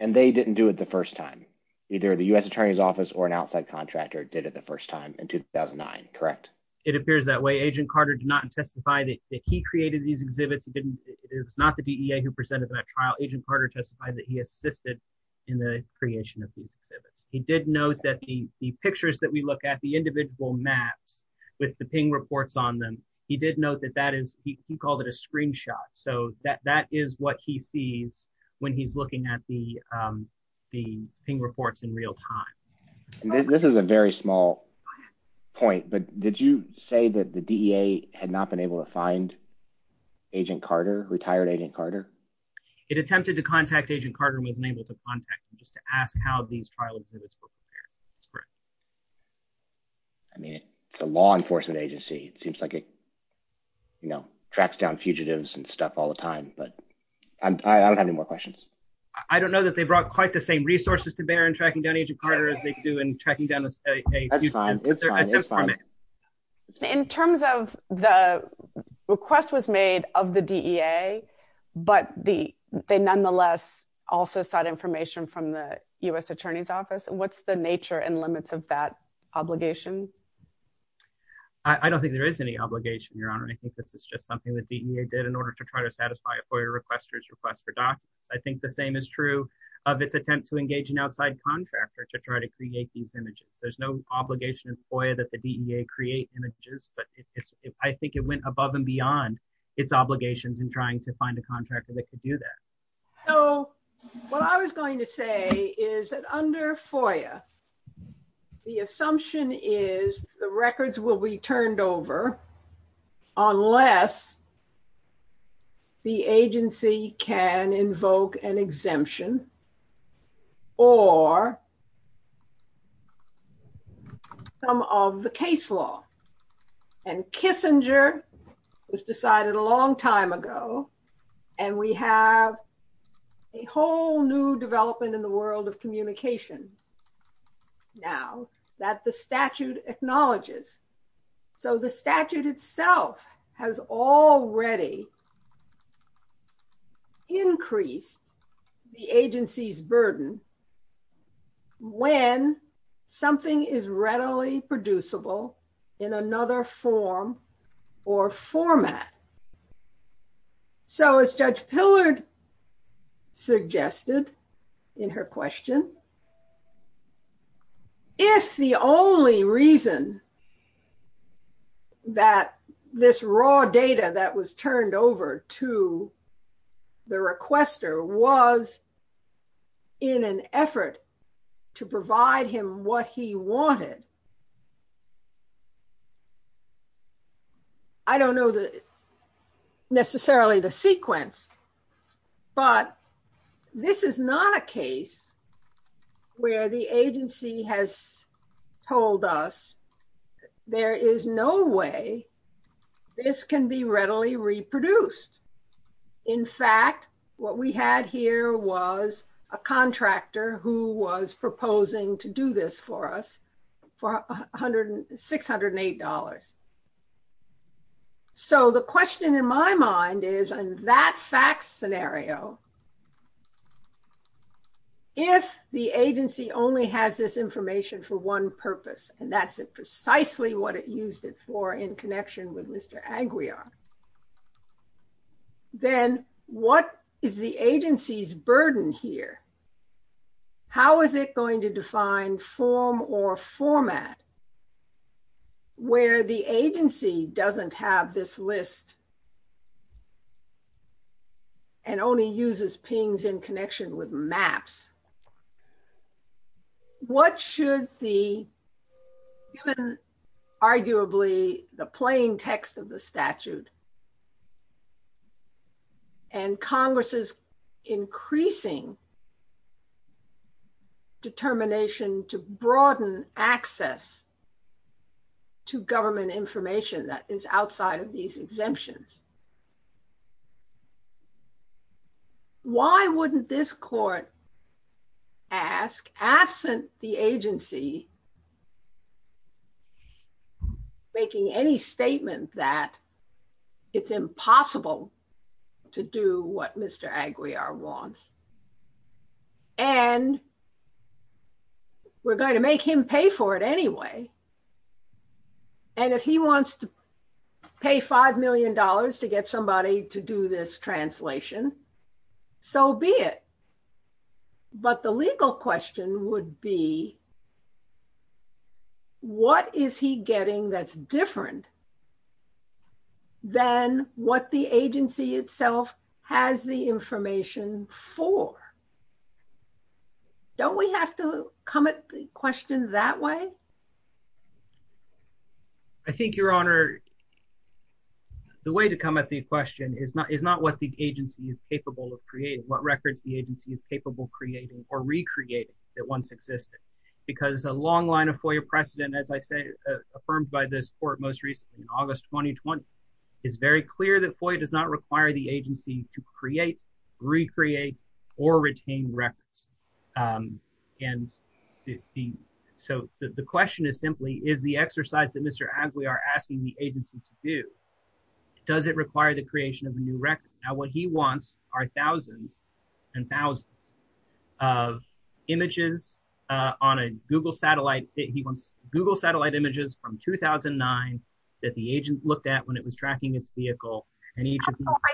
And they didn't do it the first time. Either the U.S. Attorney's Office or an outside contractor did it the first time in 2009, correct? It appears that way. Agent Carter did not testify that he created these exhibits. It is not the DEA who presented them at trial. Agent Carter testified that he assisted in the creation of these exhibits. He did note that the pictures that we look at, the individual maps with the PING reports on them, he did note that he called it a screenshot. So that is what he sees when he's looking at the PING reports in real time. This is a very small point, but did you say that the DEA had not been able to find Agent Carter, retired Agent Carter? It attempted to contact Agent Carter and was unable to contact him, just to ask how these trials were supposed to bear. I mean, it's a law enforcement agency. It seems like it, you know, tracks down fugitives and stuff all the time. But I don't have any more questions. I don't know that they brought quite the same resources to bear in tracking down Agent Carter as they do in tracking down the state case. That's fine. It's fine. It's fine. In terms of the request was made of the DEA, but they nonetheless also sought information from the U.S. Attorney's Office, what's the nature and limits of that obligation? I don't think there is any obligation, Your Honor. I think this is just something that the DEA did in order to try to satisfy a FOIA requester's request for documents. I think the same is true of its attempt to engage an outside contractor to try to create these images. There's no obligation in FOIA that the DEA create images, but I think it went above and beyond its obligations in trying to find a contractor that could do that. So, what I was going to say is that under FOIA, the assumption is the records will be turned over unless the agency can invoke an exemption or some of the case law. And Kissinger was decided a long time ago, and we have a whole new development in the world of communication now that the statute acknowledges. So, the statute itself has already increased the agency's burden when something is readily producible in another form or format. So, as Judge Pillard suggested in her question, if the only reason that this raw data that was turned over to the requester was in an effort to provide him what he necessarily the sequence, but this is not a case where the agency has told us there is no way this can be readily reproduced. In fact, what we had here was a contractor who was proposing to do this for us for $608. So, the question in my mind is in that fact scenario, if the agency only has this information for one purpose, and that's precisely what it used it for in connection with Mr. Aguiar, then what is the agency's burden here? How is it going to define form or format where the agency doesn't have this list and only uses PINs in connection with maps? What should the arguably the playing text of the statute and Congress's increasing determination to broaden access to government information that is outside of these exemptions? Why wouldn't this court ask, absent the agency making any statement that it's impossible to do what Mr. Aguiar wants? And we're going to make him pay for it anyway. And if he wants to pay $5 million to get somebody to do this translation, so be it. But the legal question would be, what is he getting that's different than what the agency itself has the information for? Don't we have to come at questions that way? I think, Your Honor, the way to come at the question is not what the agency is capable of creating, what records the agency is capable of creating or recreating that once existed. Because a long line of FOIA precedent, as I say, affirmed by this court most recently in August 2020, it's very clear that FOIA does not require the agency to create, recreate, or retain records. And so the question is simply, is the exercise that Mr. Aguiar asking the agency to do, does it require the creation of a new record? Now, what he wants are thousands and thousands of images on a Google satellite. He wants Google satellite images from 2009 that the agent looked at when it was tracking his vehicle. I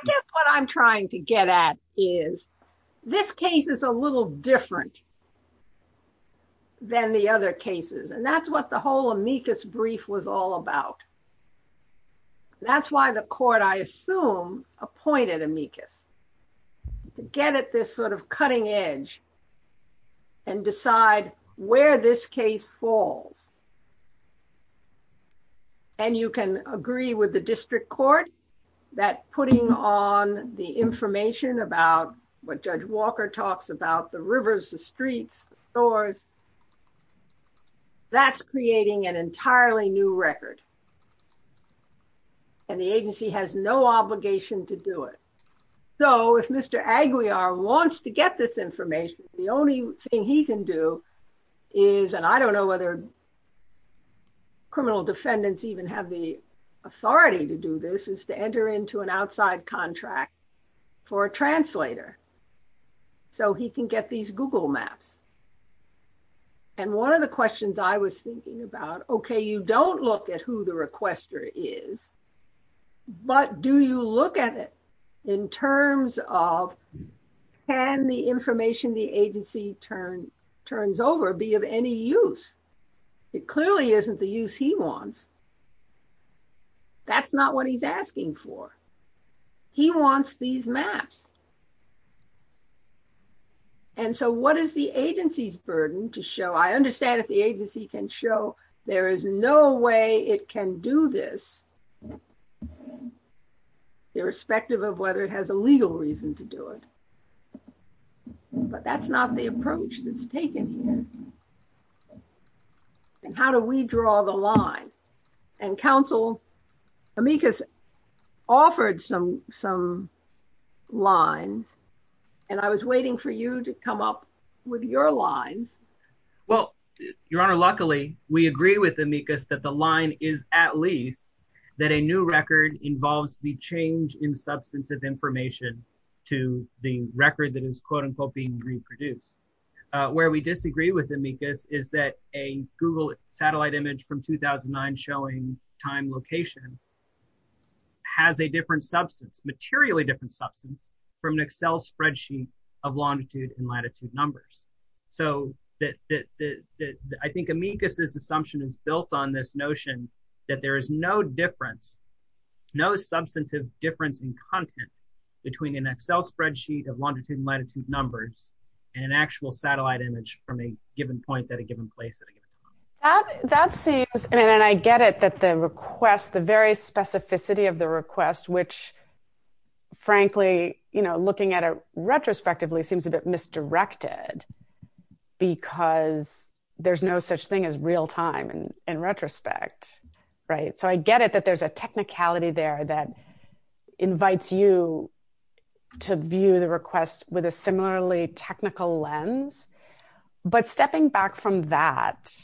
guess what I'm trying to get at is this case is a little different than the other cases. And that's what the whole amicus brief was all about. That's why the court, I assume, appointed amicus. Get at this sort of cutting edge and decide where this case falls. And you can agree with the district court that putting on the information about what Judge Walker talks about, the rivers, the streets, the stores, that's creating an entirely new record. And the agency has no obligation to do it. So if Mr. Aguiar wants to get this information, the only thing he can do is, and I don't know whether criminal defendants even have the authority to do this, is to enter into an outside contract for a translator. So he can get these Google maps. And one of the questions I was thinking about, okay, you don't look at who the requester is, but do you look at it in terms of can the information the agency turns over be of any use? It clearly isn't the use he wants. That's not what he's asking for. He wants these maps. And so what is the agency's burden to show? I understand if the agency can show there is no way it can do this, irrespective of whether it has a legal reason to do it. But that's not the approach that's taken here. And how do we draw the line? And counsel, Amicus offered some lines, and I was waiting for you to come up with your lines. Well, Your Honor, luckily, we agree with Amicus that the line is at least that a new record involves the change in substance of information to the record that is, quote-unquote, being reproduced. Where we disagree with Amicus is that a Google satellite image from 2009 showing time location has a different substance, materially different substance, from an Excel spreadsheet of longitude and latitude numbers. So I think Amicus's assumption is built on this notion that there is no difference, no substantive difference in content between an Excel spreadsheet of longitude and latitude numbers and an actual satellite image from a given point at a given place. That seems, and I get it, that the request, the very specificity of the request, which, frankly, looking at it retrospectively, seems a bit misdirected because there's no such thing as real time in retrospect, right? So I get it that there's a technicality there that invites you to view the request with a similarly technical lens. But stepping back from that,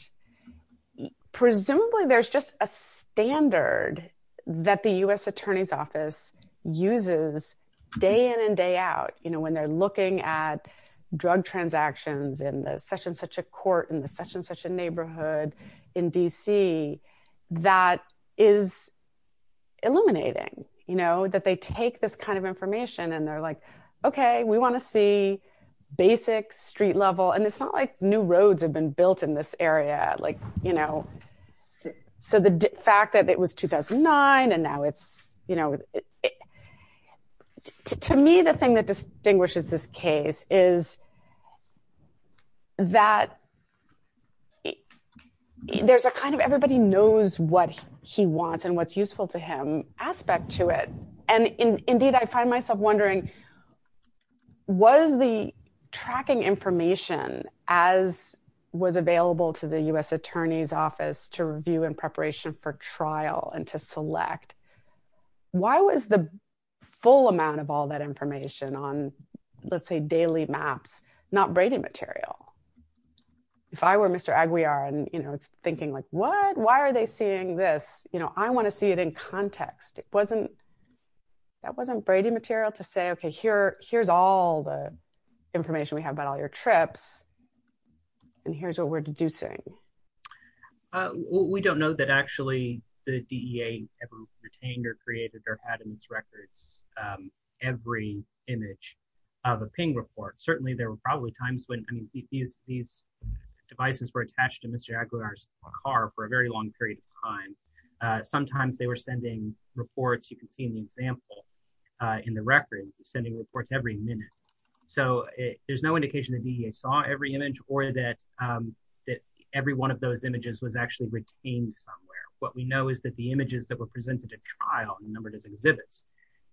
presumably there's just a standard that the U.S. Attorney's Office uses day in and day out when they're looking at drug transactions in such and such a court, in such and such a neighborhood in D.C. that is illuminating, that they take this kind of information and they're like, okay, we want to see basic street level, and it's not like new roads have been built in this area. So the fact that it was 2009 and now it's, to me, the thing that distinguishes this case is that there's a kind of everybody knows what he wants and what's useful to them aspect to it. And indeed, I find myself wondering, was the tracking information as was available to the U.S. Attorney's Office to review in preparation for trial and to select, why was the full amount of all that information on, let's say, daily maps not braiding material? If I were Mr. Aguiar and, you know, thinking like, what? Why are they seeing this? You know, I want to see it in context. It wasn't, that wasn't braiding material to say, okay, here, here's all the information we have about all your trips, and here's what we're deducing. We don't know that actually the DEA ever retained or created or had in its records every image of a ping report. Certainly, there were probably times when, I mean, these devices were attached to Mr. Aguiar's car for a very long period of time. Sometimes they were sending reports. You can see an example in the record, sending reports every minute. So, there's no indication that DEA saw every image or that every one of those images was actually retained somewhere. What we know is that the images that were presented at trial and numbered as exhibits,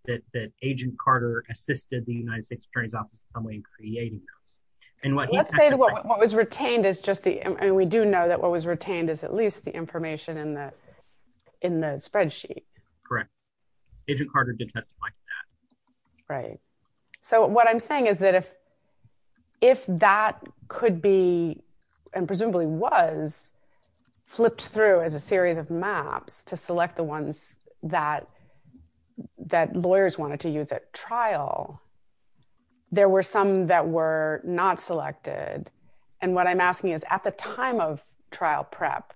that Agent Carter assisted the United States Attorney's Office in some way in creating them. And what- Let's say what was retained is just the, and we do know that what was retained is at least the information in the spreadsheet. Correct. Agent Carter did testify to that. Right. So, what I'm saying is that if that could be, and presumably was, flipped through as a series of maps to select the ones that lawyers wanted to use at trial, there were some that were not selected. And what I'm asking is, at the time of trial prep,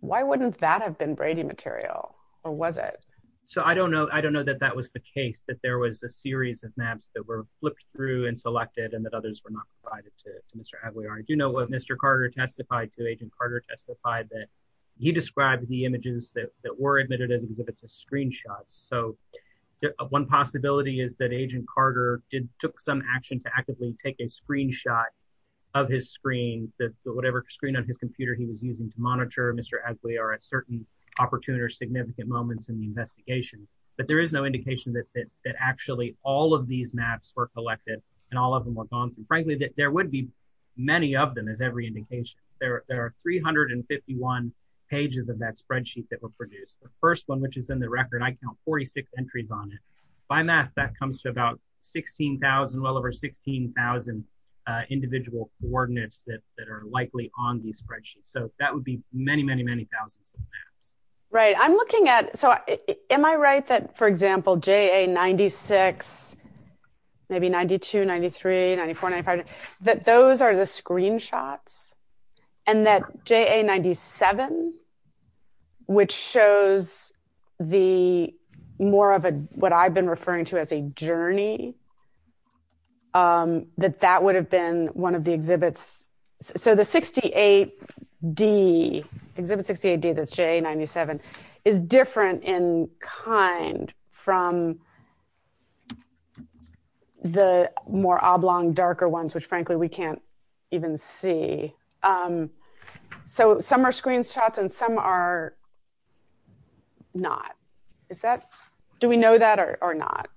why wouldn't that have been Brady material? Or was it? So, I don't know. I don't know that that was the case, that there was a series of maps that were flipped through and selected and that others were not provided to Mr. Aguiar. I do know what Mr. Carter testified to, Agent Carter testified that he described the images that were admitted as exhibits as screenshots. So, one possibility is that Agent Carter took some action to actively take a screenshot of his screen, whatever screen on his computer he was using to monitor Mr. Aguiar at certain opportune or significant moments in the investigation. But there is no indication that actually all of these maps were collected and all of them were gone. And frankly, there would be many of them as every indication. There are 351 pages of that spreadsheet that were produced. The first one, which is in the record, I count 46 entries on it. By math, that comes to about 16,000, well over 16,000 individual coordinates that are likely on these spreadsheets. So, that would be many, many, many thousands. Right. I'm looking at, so, am I right that, for example, JA 96, maybe 92, 93, 94, 95, that those are the screenshots? And that JA 97, which shows the more of a, what I've been referring to as a journey, that that would have been one of the exhibits. So, the 68D, exhibit 68D, that's JA 97, is different in kind from the more oblong, darker ones, which, frankly, we can't even see. So, some are screenshots and some are not. Is that, do we know that or not?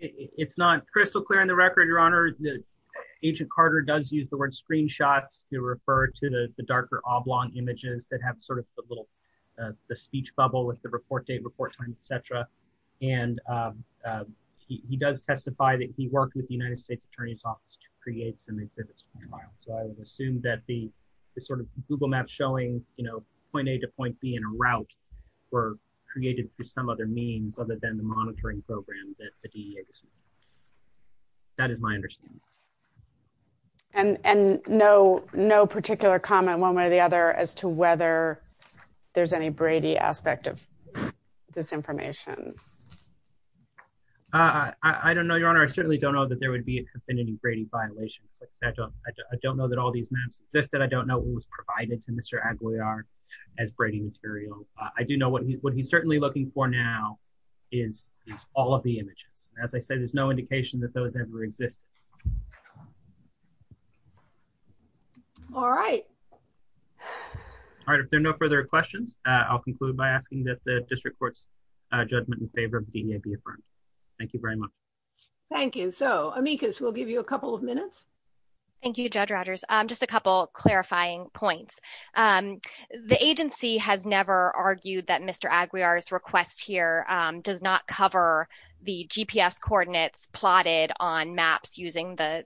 It's not crystal clear in the record, Your Honor. Agent Carter does use the word screenshot to refer to the darker oblong images that have sort of the little, the speech bubble with the report date, report time, et cetera. And he does testify that he worked with the United States Attorney's Office to create the exhibits. So, I would assume that the sort of Google map showing, you know, point A to point B in a route were created for some other means other than the No particular comment, one way or the other, as to whether there's any Brady aspect of this information. I don't know, Your Honor. I certainly don't know that there would be been any Brady violations. I don't know that all these maps existed. I don't know what was provided to Mr. Aguiar as Brady materials. I do know what he's certainly looking for now is all of the images. As I said, there's no indication that those ever existed. All right. All right. If there are no further questions, I'll conclude by asking that the district court's judgment in favor of the DEA be affirmed. Thank you very much. Thank you. So, Amicus, we'll give you a couple of minutes. Thank you, Judge Rogers. Just a couple of clarifying points. The agency has never argued that Mr. Aguiar's request here does not cover the GPS coordinates plotted on maps using the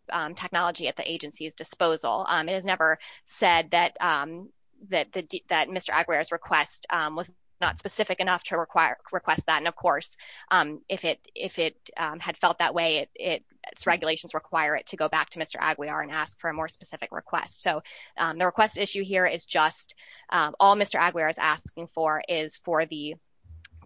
that Mr. Aguiar's request was not specific enough to request that. And, of course, if it had felt that way, its regulations require it to go back to Mr. Aguiar and ask for a more specific request. So, the request issue here is just all Mr. Aguiar is asking for is for the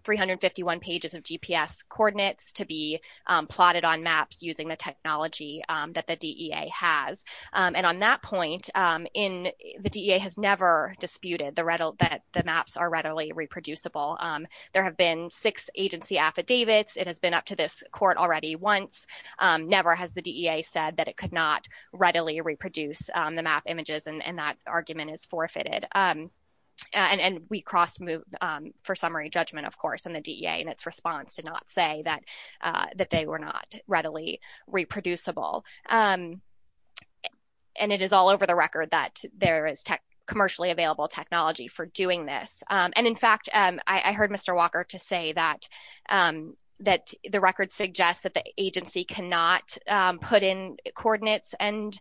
351 pages of GPS coordinates to be plotted on maps using the technology that the DEA has. And on that point, the DEA has never disputed that the maps are readily reproducible. There have been six agency affidavits. It has been up to this court already once. Never has the DEA said that it could not readily reproduce the map images, and that argument is forfeited. And we cross moved for summary judgment, of course, in the DEA in its response to not say that they were not readily reproducible. And it is all over the record that there is commercially available technology for doing this. And, in fact, I heard Mr. Walker to say that the record suggests that the agency cannot put in coordinates and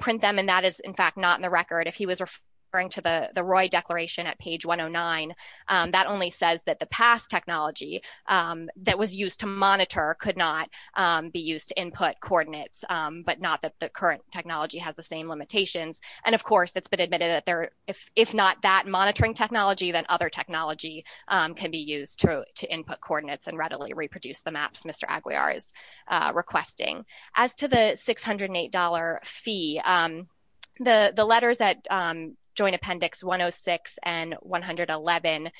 print them, and that is, in fact, not in the record. If he was referring to the Roy Declaration at page 109, that only says that the past technology that was used to monitor could not be used to input coordinates, but not that the current technology has the same limitations. And, of course, it has been admitted that if not that monitoring technology, then other technology can be used to input coordinates and readily reproduce the maps Mr. Aguiar is requesting. As to the $608 fee, the letters at Joint Appendix 106 and 111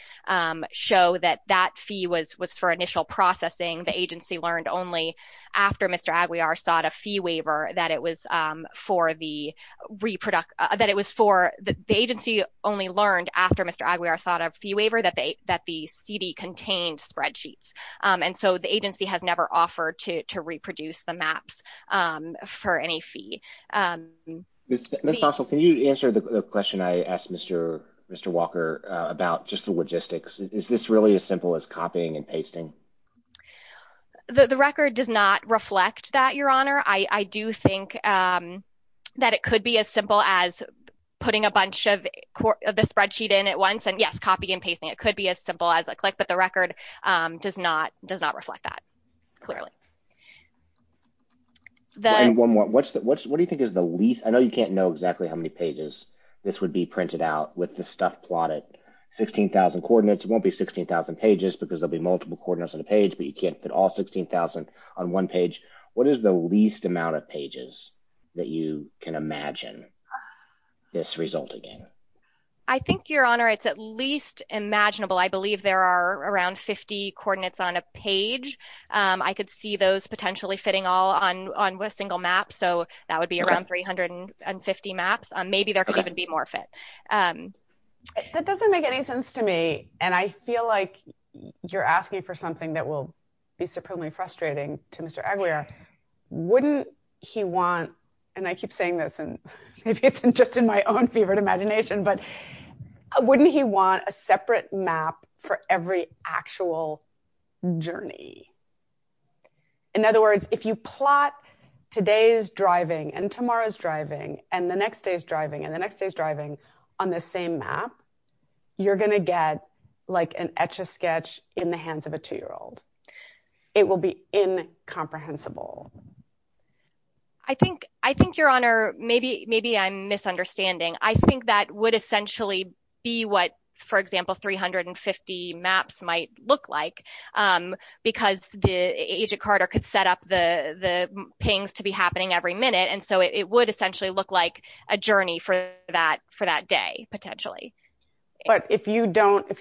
show that that fee was for initial processing. The agency learned only after Mr. Aguiar sought a fee waiver that it was for the agency only learned after Mr. Aguiar sought a fee waiver that the CD contained spreadsheets. And so the agency has Ms. Stossel, can you answer the question I asked Mr. Walker about just the logistics? Is this really as simple as copying and pasting? The record does not reflect that, Your Honor. I do think that it could be as simple as putting a bunch of the spreadsheet in at once and, yes, copy and pasting. It could be as simple as a click, but the record does not reflect that clearly. One more. What do you think is the least, I know you can't know exactly how many pages this would be printed out with the stuff plotted, 15,000 coordinates. It won't be 16,000 pages because there'll be multiple coordinates on a page, but you can't put all 16,000 on one page. What is the least amount of pages that you can imagine this result again? I think, Your Honor, it's at least imaginable. I believe there are around 50 coordinates on a potentially fitting all on a single map, so that would be around 350 maps. Maybe there could even be more of it. That doesn't make any sense to me, and I feel like you're asking for something that will be supremely frustrating to Mr. Aguiar. Wouldn't he want, and I keep saying this, and maybe it's just in my own fevered imagination, but wouldn't he want a separate map for every actual journey? In other words, if you plot today's driving, and tomorrow's driving, and the next day's driving, and the next day's driving on the same map, you're going to get like an Etch-A-Sketch in the hands of a two-year-old. It will be incomprehensible. I think, Your Honor, maybe I'm misunderstanding. I think that would essentially be what, for example, 350 maps might look like, because Agent Carter could set up the things to be happening every minute, and so it would essentially look like a journey for that day, potentially. But if you're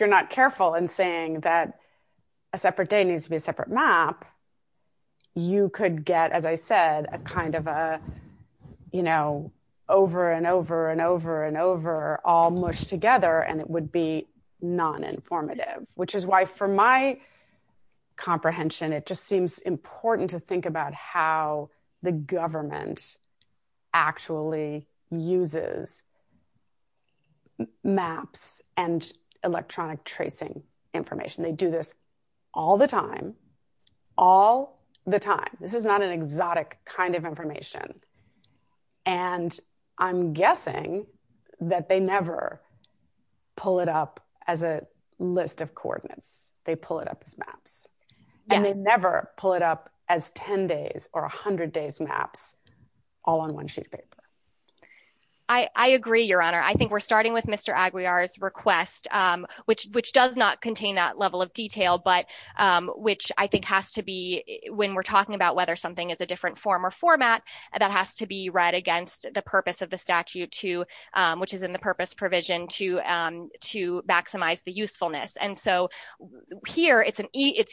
not careful in saying that a separate day needs to be a separate map, you could get, as I said, a kind of a, over and over and over and over, all mushed together, and it would be non-informative, which is why, for my comprehension, it just seems important to think about how the government actually uses maps and electronic tracing information. They do this all the time, all the time. This is not an exotic kind of information, and I'm guessing that they never pull it up as a list of coordinates. They pull it up as maps, and they never pull it up as 10 days or 100 days maps all on one sheet of paper. I agree, Your Honor. I think we're starting with Mr. Aguiar's request, which does not contain that level of detail, but which I think has to be, when we're talking about whether something is a different form or format, that has to be read against the purpose of the statute, which is in the purpose provision to maximize the usefulness. Here, it's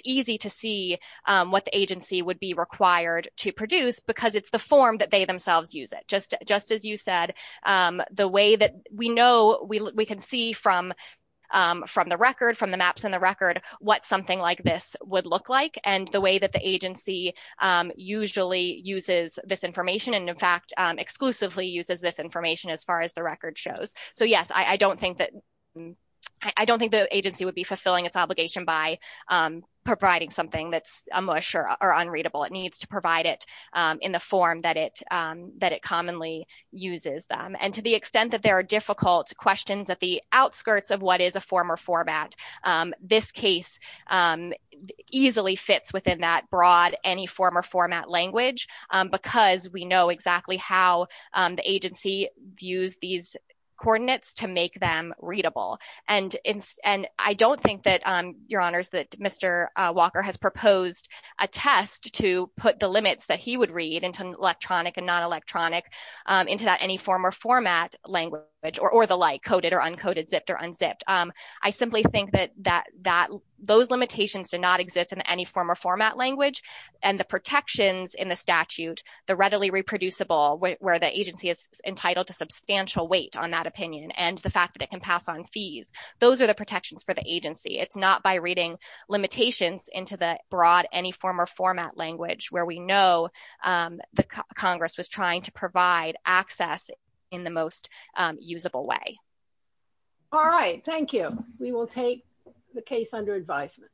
easy to see what the agency would be required to produce, because it's the form that they themselves use it. Just as you said, the way that we know, we can see from the record, from the maps in the record, what something like this would look like, and the way that the agency usually uses this information and, in fact, exclusively uses this information as far as the record shows. Yes, I don't think the agency would be fulfilling its obligation by providing something that's amush or unreadable. It needs to provide it in the form that it commonly uses. To the extent that there are difficult questions at the outskirts of what is a form or format, this case easily fits within that broad any form or format language, because we know exactly how the agency views these coordinates to make them readable. I don't think that, Your Honors, that Mr. Walker has proposed a test to put the limits that he would read into electronic and non-electronic into that any form or format language or the like, coded or uncoded, zipped or unzipped. I simply think that those limitations do not exist in any form or format language, and the protections in the statute, the readily reproducible, where the agency is entitled to substantial weight on that opinion, and the fact that it can pass on fees, those are the protections for the agency. It's not by reading limitations into the broad any form or format language where we know that Congress was trying to provide access in the most usable way. All right. Thank you. We will take the case under advisement.